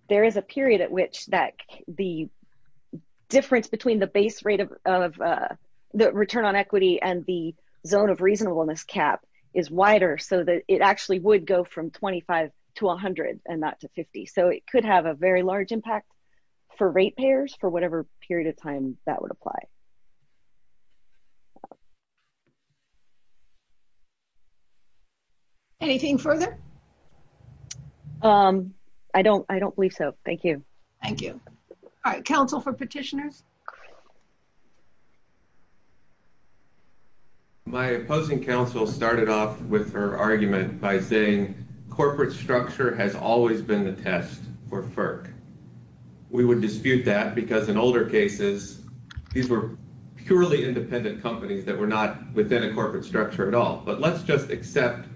there is a period at which the difference between the base rate of the return on equity and the zone of reasonableness cap is wider so that it actually would go from 25 to 100 and not to 50. So, it could have a very large impact for rate payers for whatever period of time that would apply. Anything further? I don't believe so. Thank you. Thank you. All right. Counsel for petitioners? My opposing counsel started off with her argument by saying corporate structure has always been the test for FERC. We would dispute that because in older cases, these were purely independent companies that were not within a corporate structure at all. But let's just accept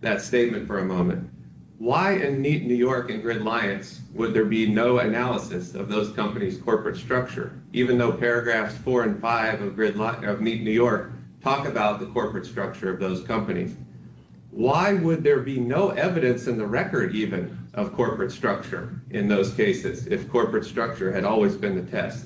that statement for a moment. Why in Neat New York and GridLions would there be no analysis of those companies' corporate structure, even though paragraphs 4 and 5 of Neat New York talk about the corporate structure of those companies? Why would there be no evidence in the record, even, of corporate structure in those cases if corporate structure had always been the test?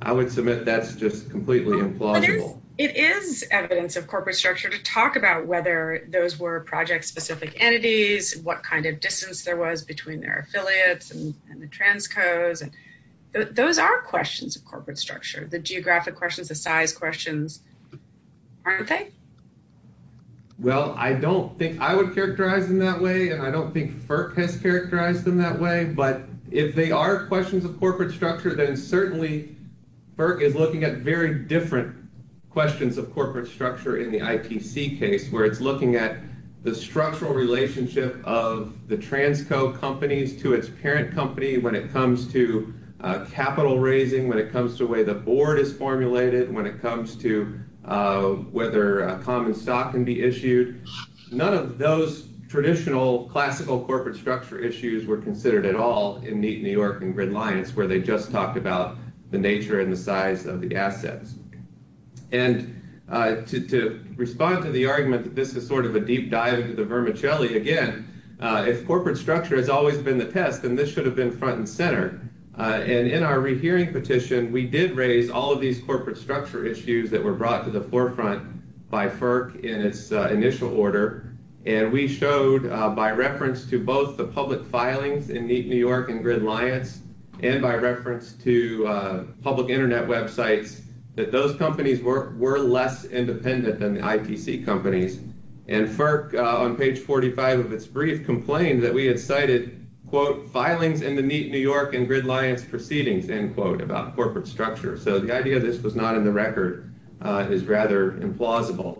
I would submit that's just completely implausible. It is evidence of corporate structure to talk about whether those were project-specific entities, what kind of distance there was between their affiliates and the transcodes. Those are questions of corporate structure, the geographic questions, the size questions, aren't they? Well, I don't think I would characterize them that way, and I don't think FERC has characterized them that way. But if they are questions of corporate structure, then certainly FERC is looking at very different questions of corporate structure in the IPC case, where it's looking at the structural relationship of the transcode companies to its parent company when it comes to capital raising, when it comes to the way the board is formulated, when it comes to whether common stock can be issued. None of those traditional, classical corporate structure issues were considered at all in Neat New York and Gridlions, where they just talked about the nature and the size of the assets. And to respond to the argument that this is sort of a deep dive into the vermicelli, again, if corporate structure has always been the test, then this should have been front and center. And in our rehearing petition, we did raise all of these corporate structure issues that were brought to the forefront by FERC in its initial order. And we showed, by reference to both the public filings in Neat New York and Gridlions, and by reference to public Internet websites, that those companies were less independent than the IPC companies. And FERC, on page 45 of its brief, complained that we had cited, quote, filings in the Neat New York and Gridlions proceedings, end quote, about corporate structure. So the idea this was not in the record is rather implausible.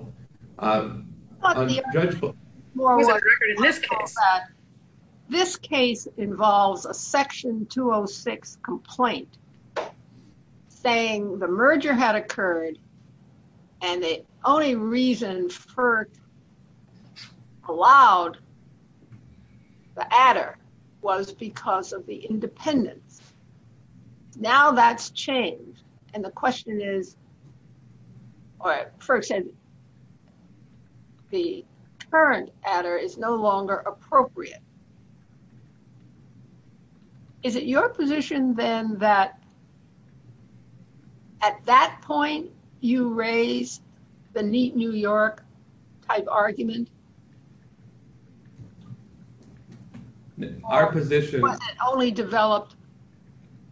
This case involves a section 206 complaint saying the merger had occurred and the only reason FERC allowed the adder was because of the independence. Now that's changed. And the question is, or FERC said the current adder is no longer appropriate. Is it your position, then, that at that point you raised the Neat New York type argument? Our position... But it only developed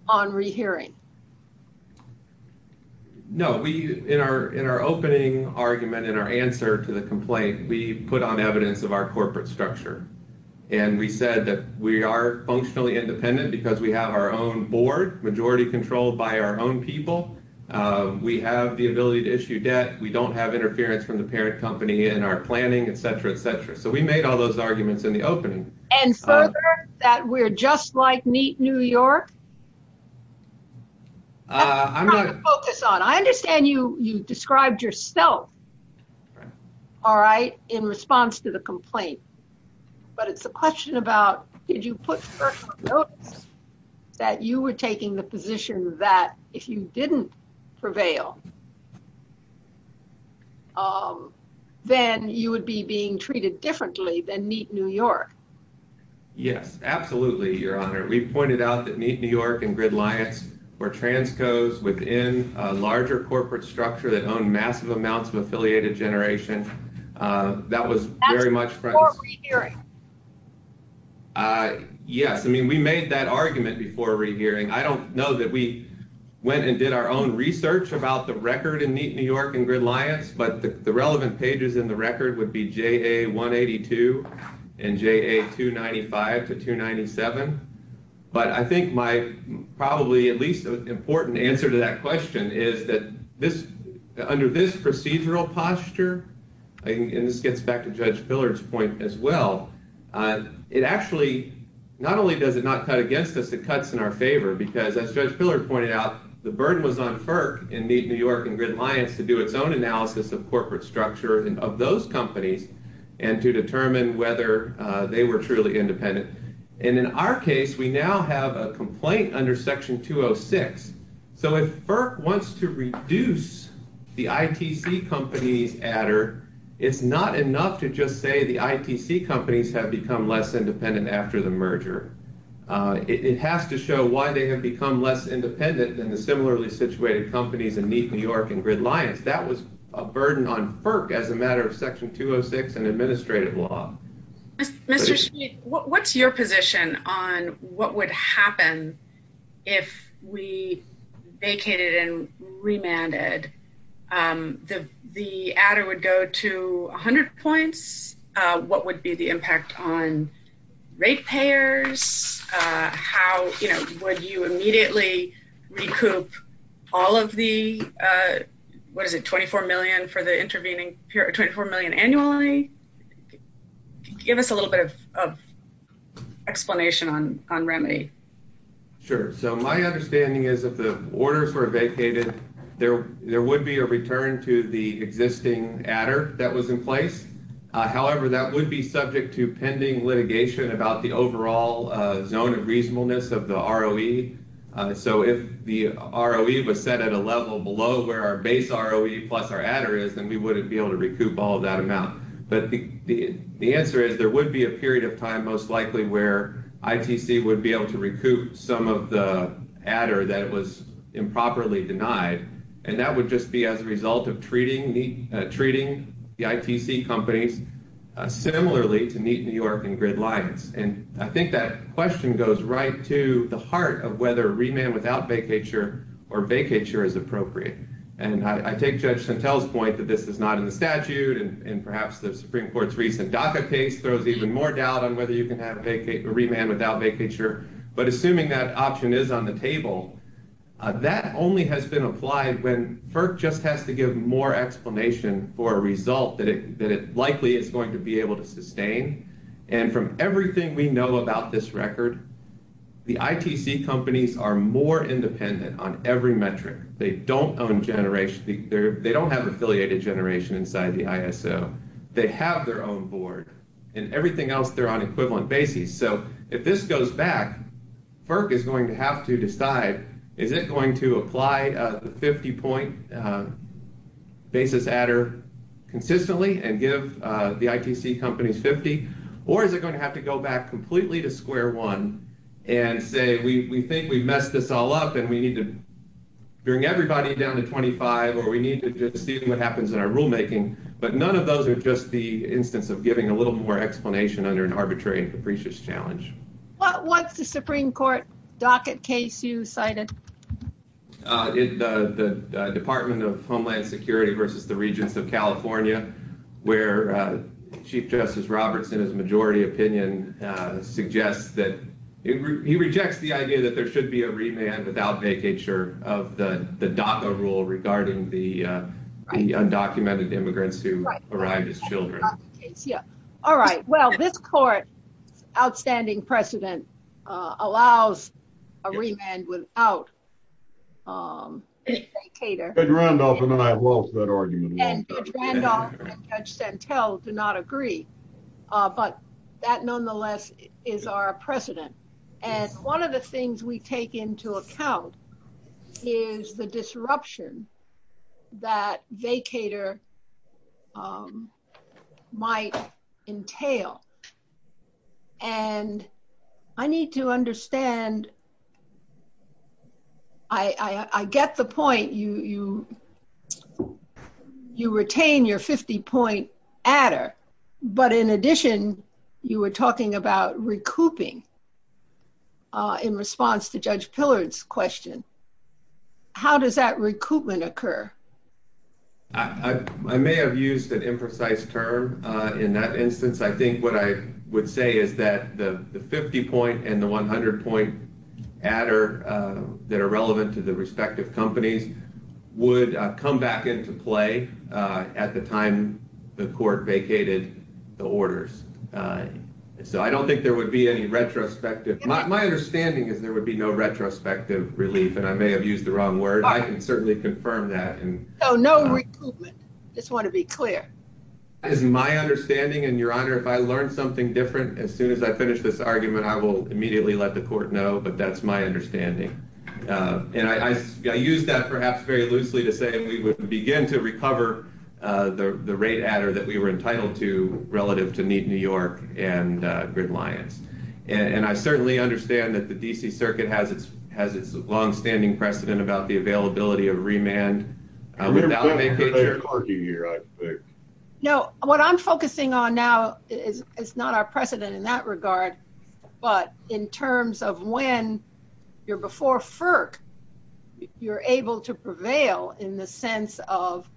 on rehearing. No. In our opening argument and our answer to the complaint, we put on evidence of our corporate structure. And we said that we are functionally independent because we have our own board, majority controlled by our own people. We have the ability to issue debt. So we make all those arguments in the opening. And further, that we're just like Neat New York? That's what I'm going to focus on. I understand you described yourself, all right, in response to the complaint. But it's a question about, did you put FERC on notice that you were taking the position that if you didn't prevail, then you would be being treated differently than Neat New York? Yes, absolutely, Your Honor. We pointed out that Neat New York and GridLiance were transcos within a larger corporate structure that owned massive amounts of affiliated generation. That was very much... Before rehearing. Yes. I mean, we made that argument before rehearing. I don't know that we went and did our own research about the record in Neat New York and GridLiance. But the relevant pages in the record would be JA182 and JA295 to 297. But I think my probably at least important answer to that question is that under this procedural posture, and this gets back to Judge Pillard's point as well, it actually, not only does it not cut against us, it cuts in our favor. Because as Judge Pillard pointed out, the burden was on FERC and Neat New York and GridLiance to do its own analysis of corporate structure of those companies and to determine whether they were truly independent. And in our case, we now have a complaint under Section 206. So if FERC wants to reduce the IPC company adder, it's not enough to just say the IPC companies have become less independent after the merger. It has to show why they have become less independent than the similarly situated companies in Neat New York and GridLiance. That was a burden on FERC as a matter of Section 206 and administrative law. Mr. Sheehan, what's your position on what would happen if we vacated and remanded? The adder would go to 100 points. What would be the impact on rate payers? How would you immediately recoup all of the, what is it, 24 million for the intervening period, 24 million annually? Give us a little bit of explanation on remanding. Sure. So my understanding is if the orders were vacated, there would be a return to the existing adder that was in place. However, that would be subject to pending litigation about the overall zone of reasonableness of the ROE. So if the ROE was set at a level below where our base ROE plus our adder is, then we wouldn't be able to recoup all of that amount. But the answer is there would be a period of time most likely where ITC would be able to recoup some of the adder that was improperly denied. And that would just be as a result of treating the ITC company similarly to Neat New York and GridLiance. And I think that question goes right to the heart of whether remand without vacature or vacature is appropriate. And I take Judge Santel's point that this is not in the statute and perhaps the Supreme Court's recent DACA case shows even more doubt on whether you can have a remand without vacature. But assuming that option is on the table, that only has been applied when FERC just has to give more explanation for a result that it's likely it's going to be able to sustain. And from everything we know about this record, the ITC companies are more independent on every metric. They don't have affiliated generation inside the ISO. They have their own board. And everything else, they're on equivalent basis. So if this goes back, FERC is going to have to decide, is it going to apply the 50-point basis adder consistently and give the ITC companies 50? Or is it going to have to go back completely to square one and say, we think we've messed this all up and we need to bring everybody down to 25 or we need to just see what happens in our rulemaking? But none of those are just the instance of giving a little more explanation under an arbitrary and capricious challenge. What's the Supreme Court DACA case you cited? It's the Department of Homeland Security versus the Regents of California, where Chief Justice Roberts, in his majority opinion, suggests that he rejects the idea that there should be a remand without vacature of the DACA rule regarding the undocumented immigrants who arrived as children. All right. Well, this court's outstanding precedent allows a remand without a vacater. Judge Randolph and I have lost that argument. And Judge Randolph and Judge Santel do not agree. But that, nonetheless, is our precedent. And one of the things we take into account is the disruption that vacater might entail. And I need to understand, I get the point. You retain your 50-point adder. But in addition, you were talking about recouping in response to Judge Pillard's question. How does that recoupment occur? I may have used an imprecise term in that instance. I think what I would say is that the 50-point and the 100-point adder that are relevant to the respective companies would come back into play at the time the court vacated the orders. So I don't think there would be any retrospective. My understanding is there would be no retrospective relief. And I may have used the wrong word. I can certainly confirm that. So no recoupment. I just want to be clear. That is my understanding. And, Your Honor, if I learned something different, as soon as I finish this argument, I will immediately let the court know. But that's my understanding. And I use that perhaps very loosely to say we would begin to recover the rate adder that we were entitled to relative to Neat New York and Gridlions. And I certainly understand that the D.C. Circuit has its longstanding precedent about the availability of remand. No, what I'm focusing on now is not our precedent in that regard, but in terms of when you're before FERC, you're able to prevail in the sense of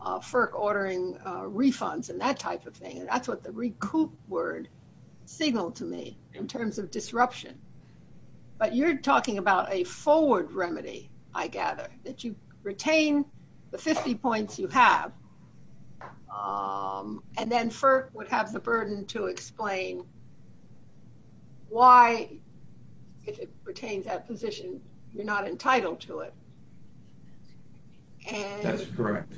FERC ordering refunds and that type of thing. That's what the recoup word signaled to me in terms of disruption. But you're talking about a forward remedy, I gather, that you retain the 50 points you have and then FERC would have the burden to explain why, if it retains that position, you're not entitled to it. That's correct.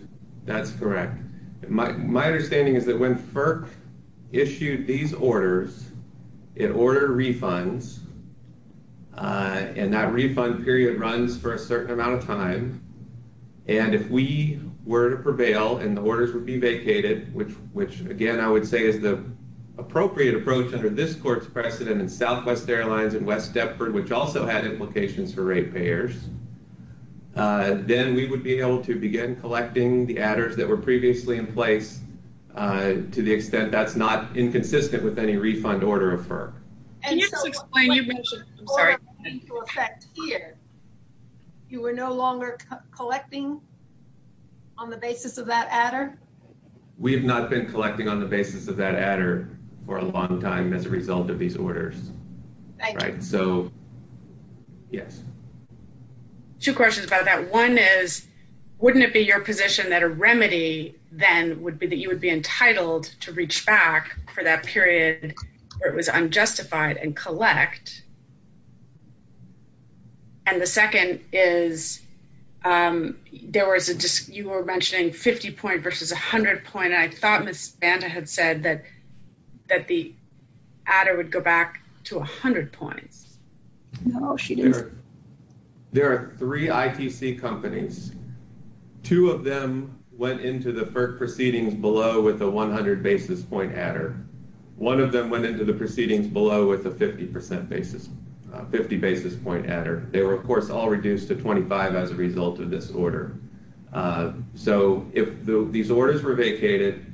That's correct. My understanding is that when FERC issued these orders, it ordered refunds, and that refund period runs for a certain amount of time. And if we were to prevail and the orders would be vacated, which, again, I would say is an appropriate approach under this court's precedent in Southwest Airlines and West Deptford, which also had implications for rate payers, then we would be able to begin collecting the adders that were previously in place to the extent that's not inconsistent with any refund order of FERC. You were no longer collecting on the basis of that adder? We have not been collecting on the basis of that adder for a long time as a result of these orders. Thank you. Two questions about that. One is, wouldn't it be your position that a remedy then would be that you would be entitled to reach back for that period where it was unjustified and collect? And the second is, you were mentioning 50-point versus 100-point. I thought Ms. Banta had said that the adder would go back to 100-point. No, she didn't. There are three IPC companies. Two of them went into the FERC proceedings below with a 100-basis point adder. One of them went into the proceedings below with a 50-basis point adder. They were, of course, all reduced to 25 as a result of this order. So if these orders were vacated,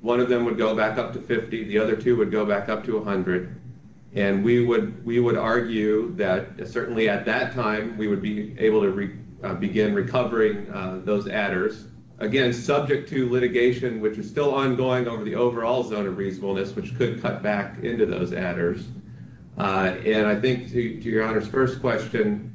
one of them would go back up to 50. The other two would go back up to 100. And we would argue that certainly at that time we would be able to begin recovering those adders. Again, subject to litigation, which is still ongoing over the overall zone of reasonableness, which could cut back into those adders. And I think to Your Honor's first question,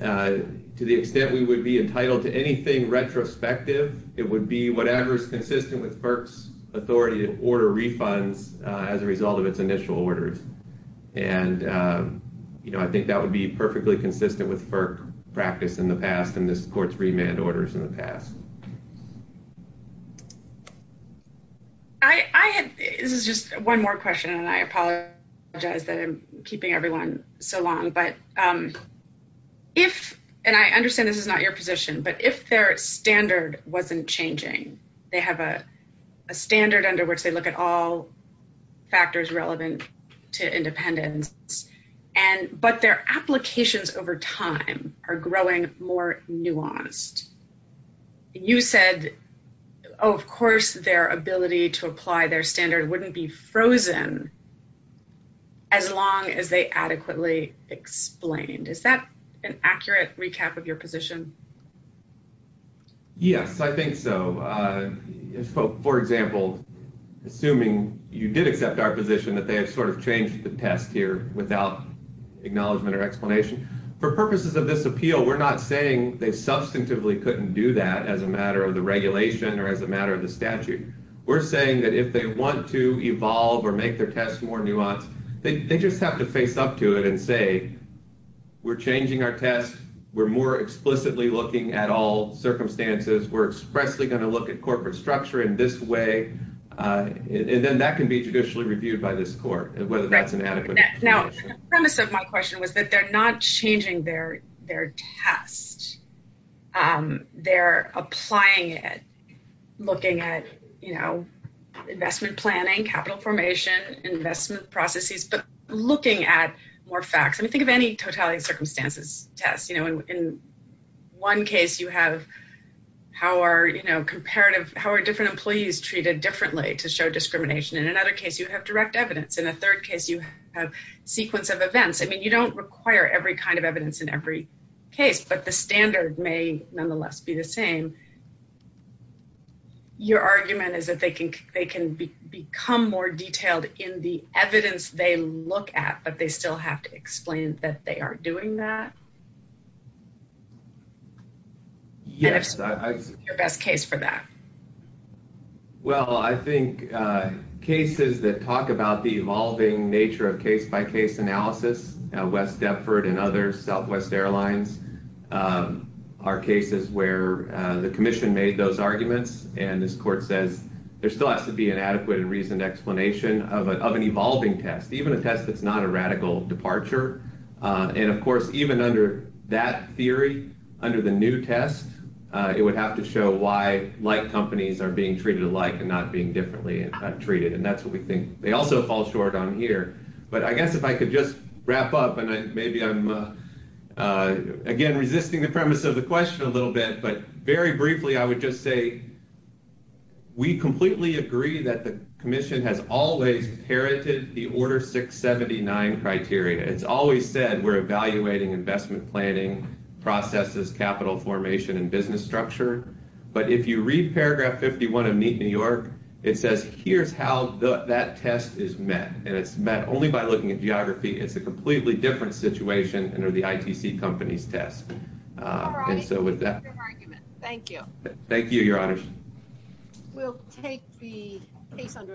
to the extent we would be entitled to anything retrospective, it would be whatever is consistent with FERC's authority to order refunds as a result of its initial orders. And, you know, I think that would be perfectly consistent with FERC's practice in the past and this court's remand orders in the past. This is just one more question, and I apologize that I'm keeping everyone so long. And I understand this is not your position, but if their standard wasn't changing, they have a standard under which they look at all factors relevant to independence, but their applications over time are growing more nuanced. You said, of course, their ability to apply their standard wouldn't be frozen as long as they adequately explained. Is that an accurate recap of your position? Yes, I think so. For example, assuming you did accept our position that they had sort of changed the test here without acknowledgement or explanation. For purposes of this appeal, we're not saying they substantively couldn't do that as a matter of the regulation or as a matter of the statute. We're saying that if they want to evolve or make their test more nuanced, They just have to face up to it and say, we're changing our test. We're more explicitly looking at all circumstances. We're expressly going to look at corporate structure in this way. And then that can be judicially reviewed by this court, whether that's inadequate. Now, the premise of my question was that they're not changing their test. They're applying it, looking at investment planning, capital formation, investment processes, but looking at more facts. I mean, think of any totality of circumstances test. In one case, you have how are different employees treated differently to show discrimination. In another case, you have direct evidence. In a third case, you have a sequence of events. I mean, you don't require every kind of evidence in every case, but the standard may nonetheless be the same. Your argument is that they can become more detailed in the evidence they look at, but they still have to explain that they are doing that? Yes. Your best case for that. Well, I think cases that talk about the evolving nature of case-by-case analysis, West Dufford and others, Southwest Airlines, are cases where the commission made those arguments, and this court says, there still has to be an adequate and reasoned explanation of an evolving test, even a test that's not a radical departure. And, of course, even under that theory, under the new test, it would have to show why light companies are being treated alike and not being differently treated. And that's what we think. They also fall short on here. But I guess if I could just wrap up, and maybe I'm, again, resisting the premise of the question a little bit, but very briefly I would just say we completely agree that the commission has always inherited the Order 679 criteria. It's always said we're evaluating investment planning, processes, capital formation, and business structure. But if you read paragraph 51 of Meet New York, it says here's how that test is met. And it's met only by looking at geography. It's a completely different situation under the ITC company's test. All right. Thank you. Thank you, Your Honors. We'll take the case under advisory.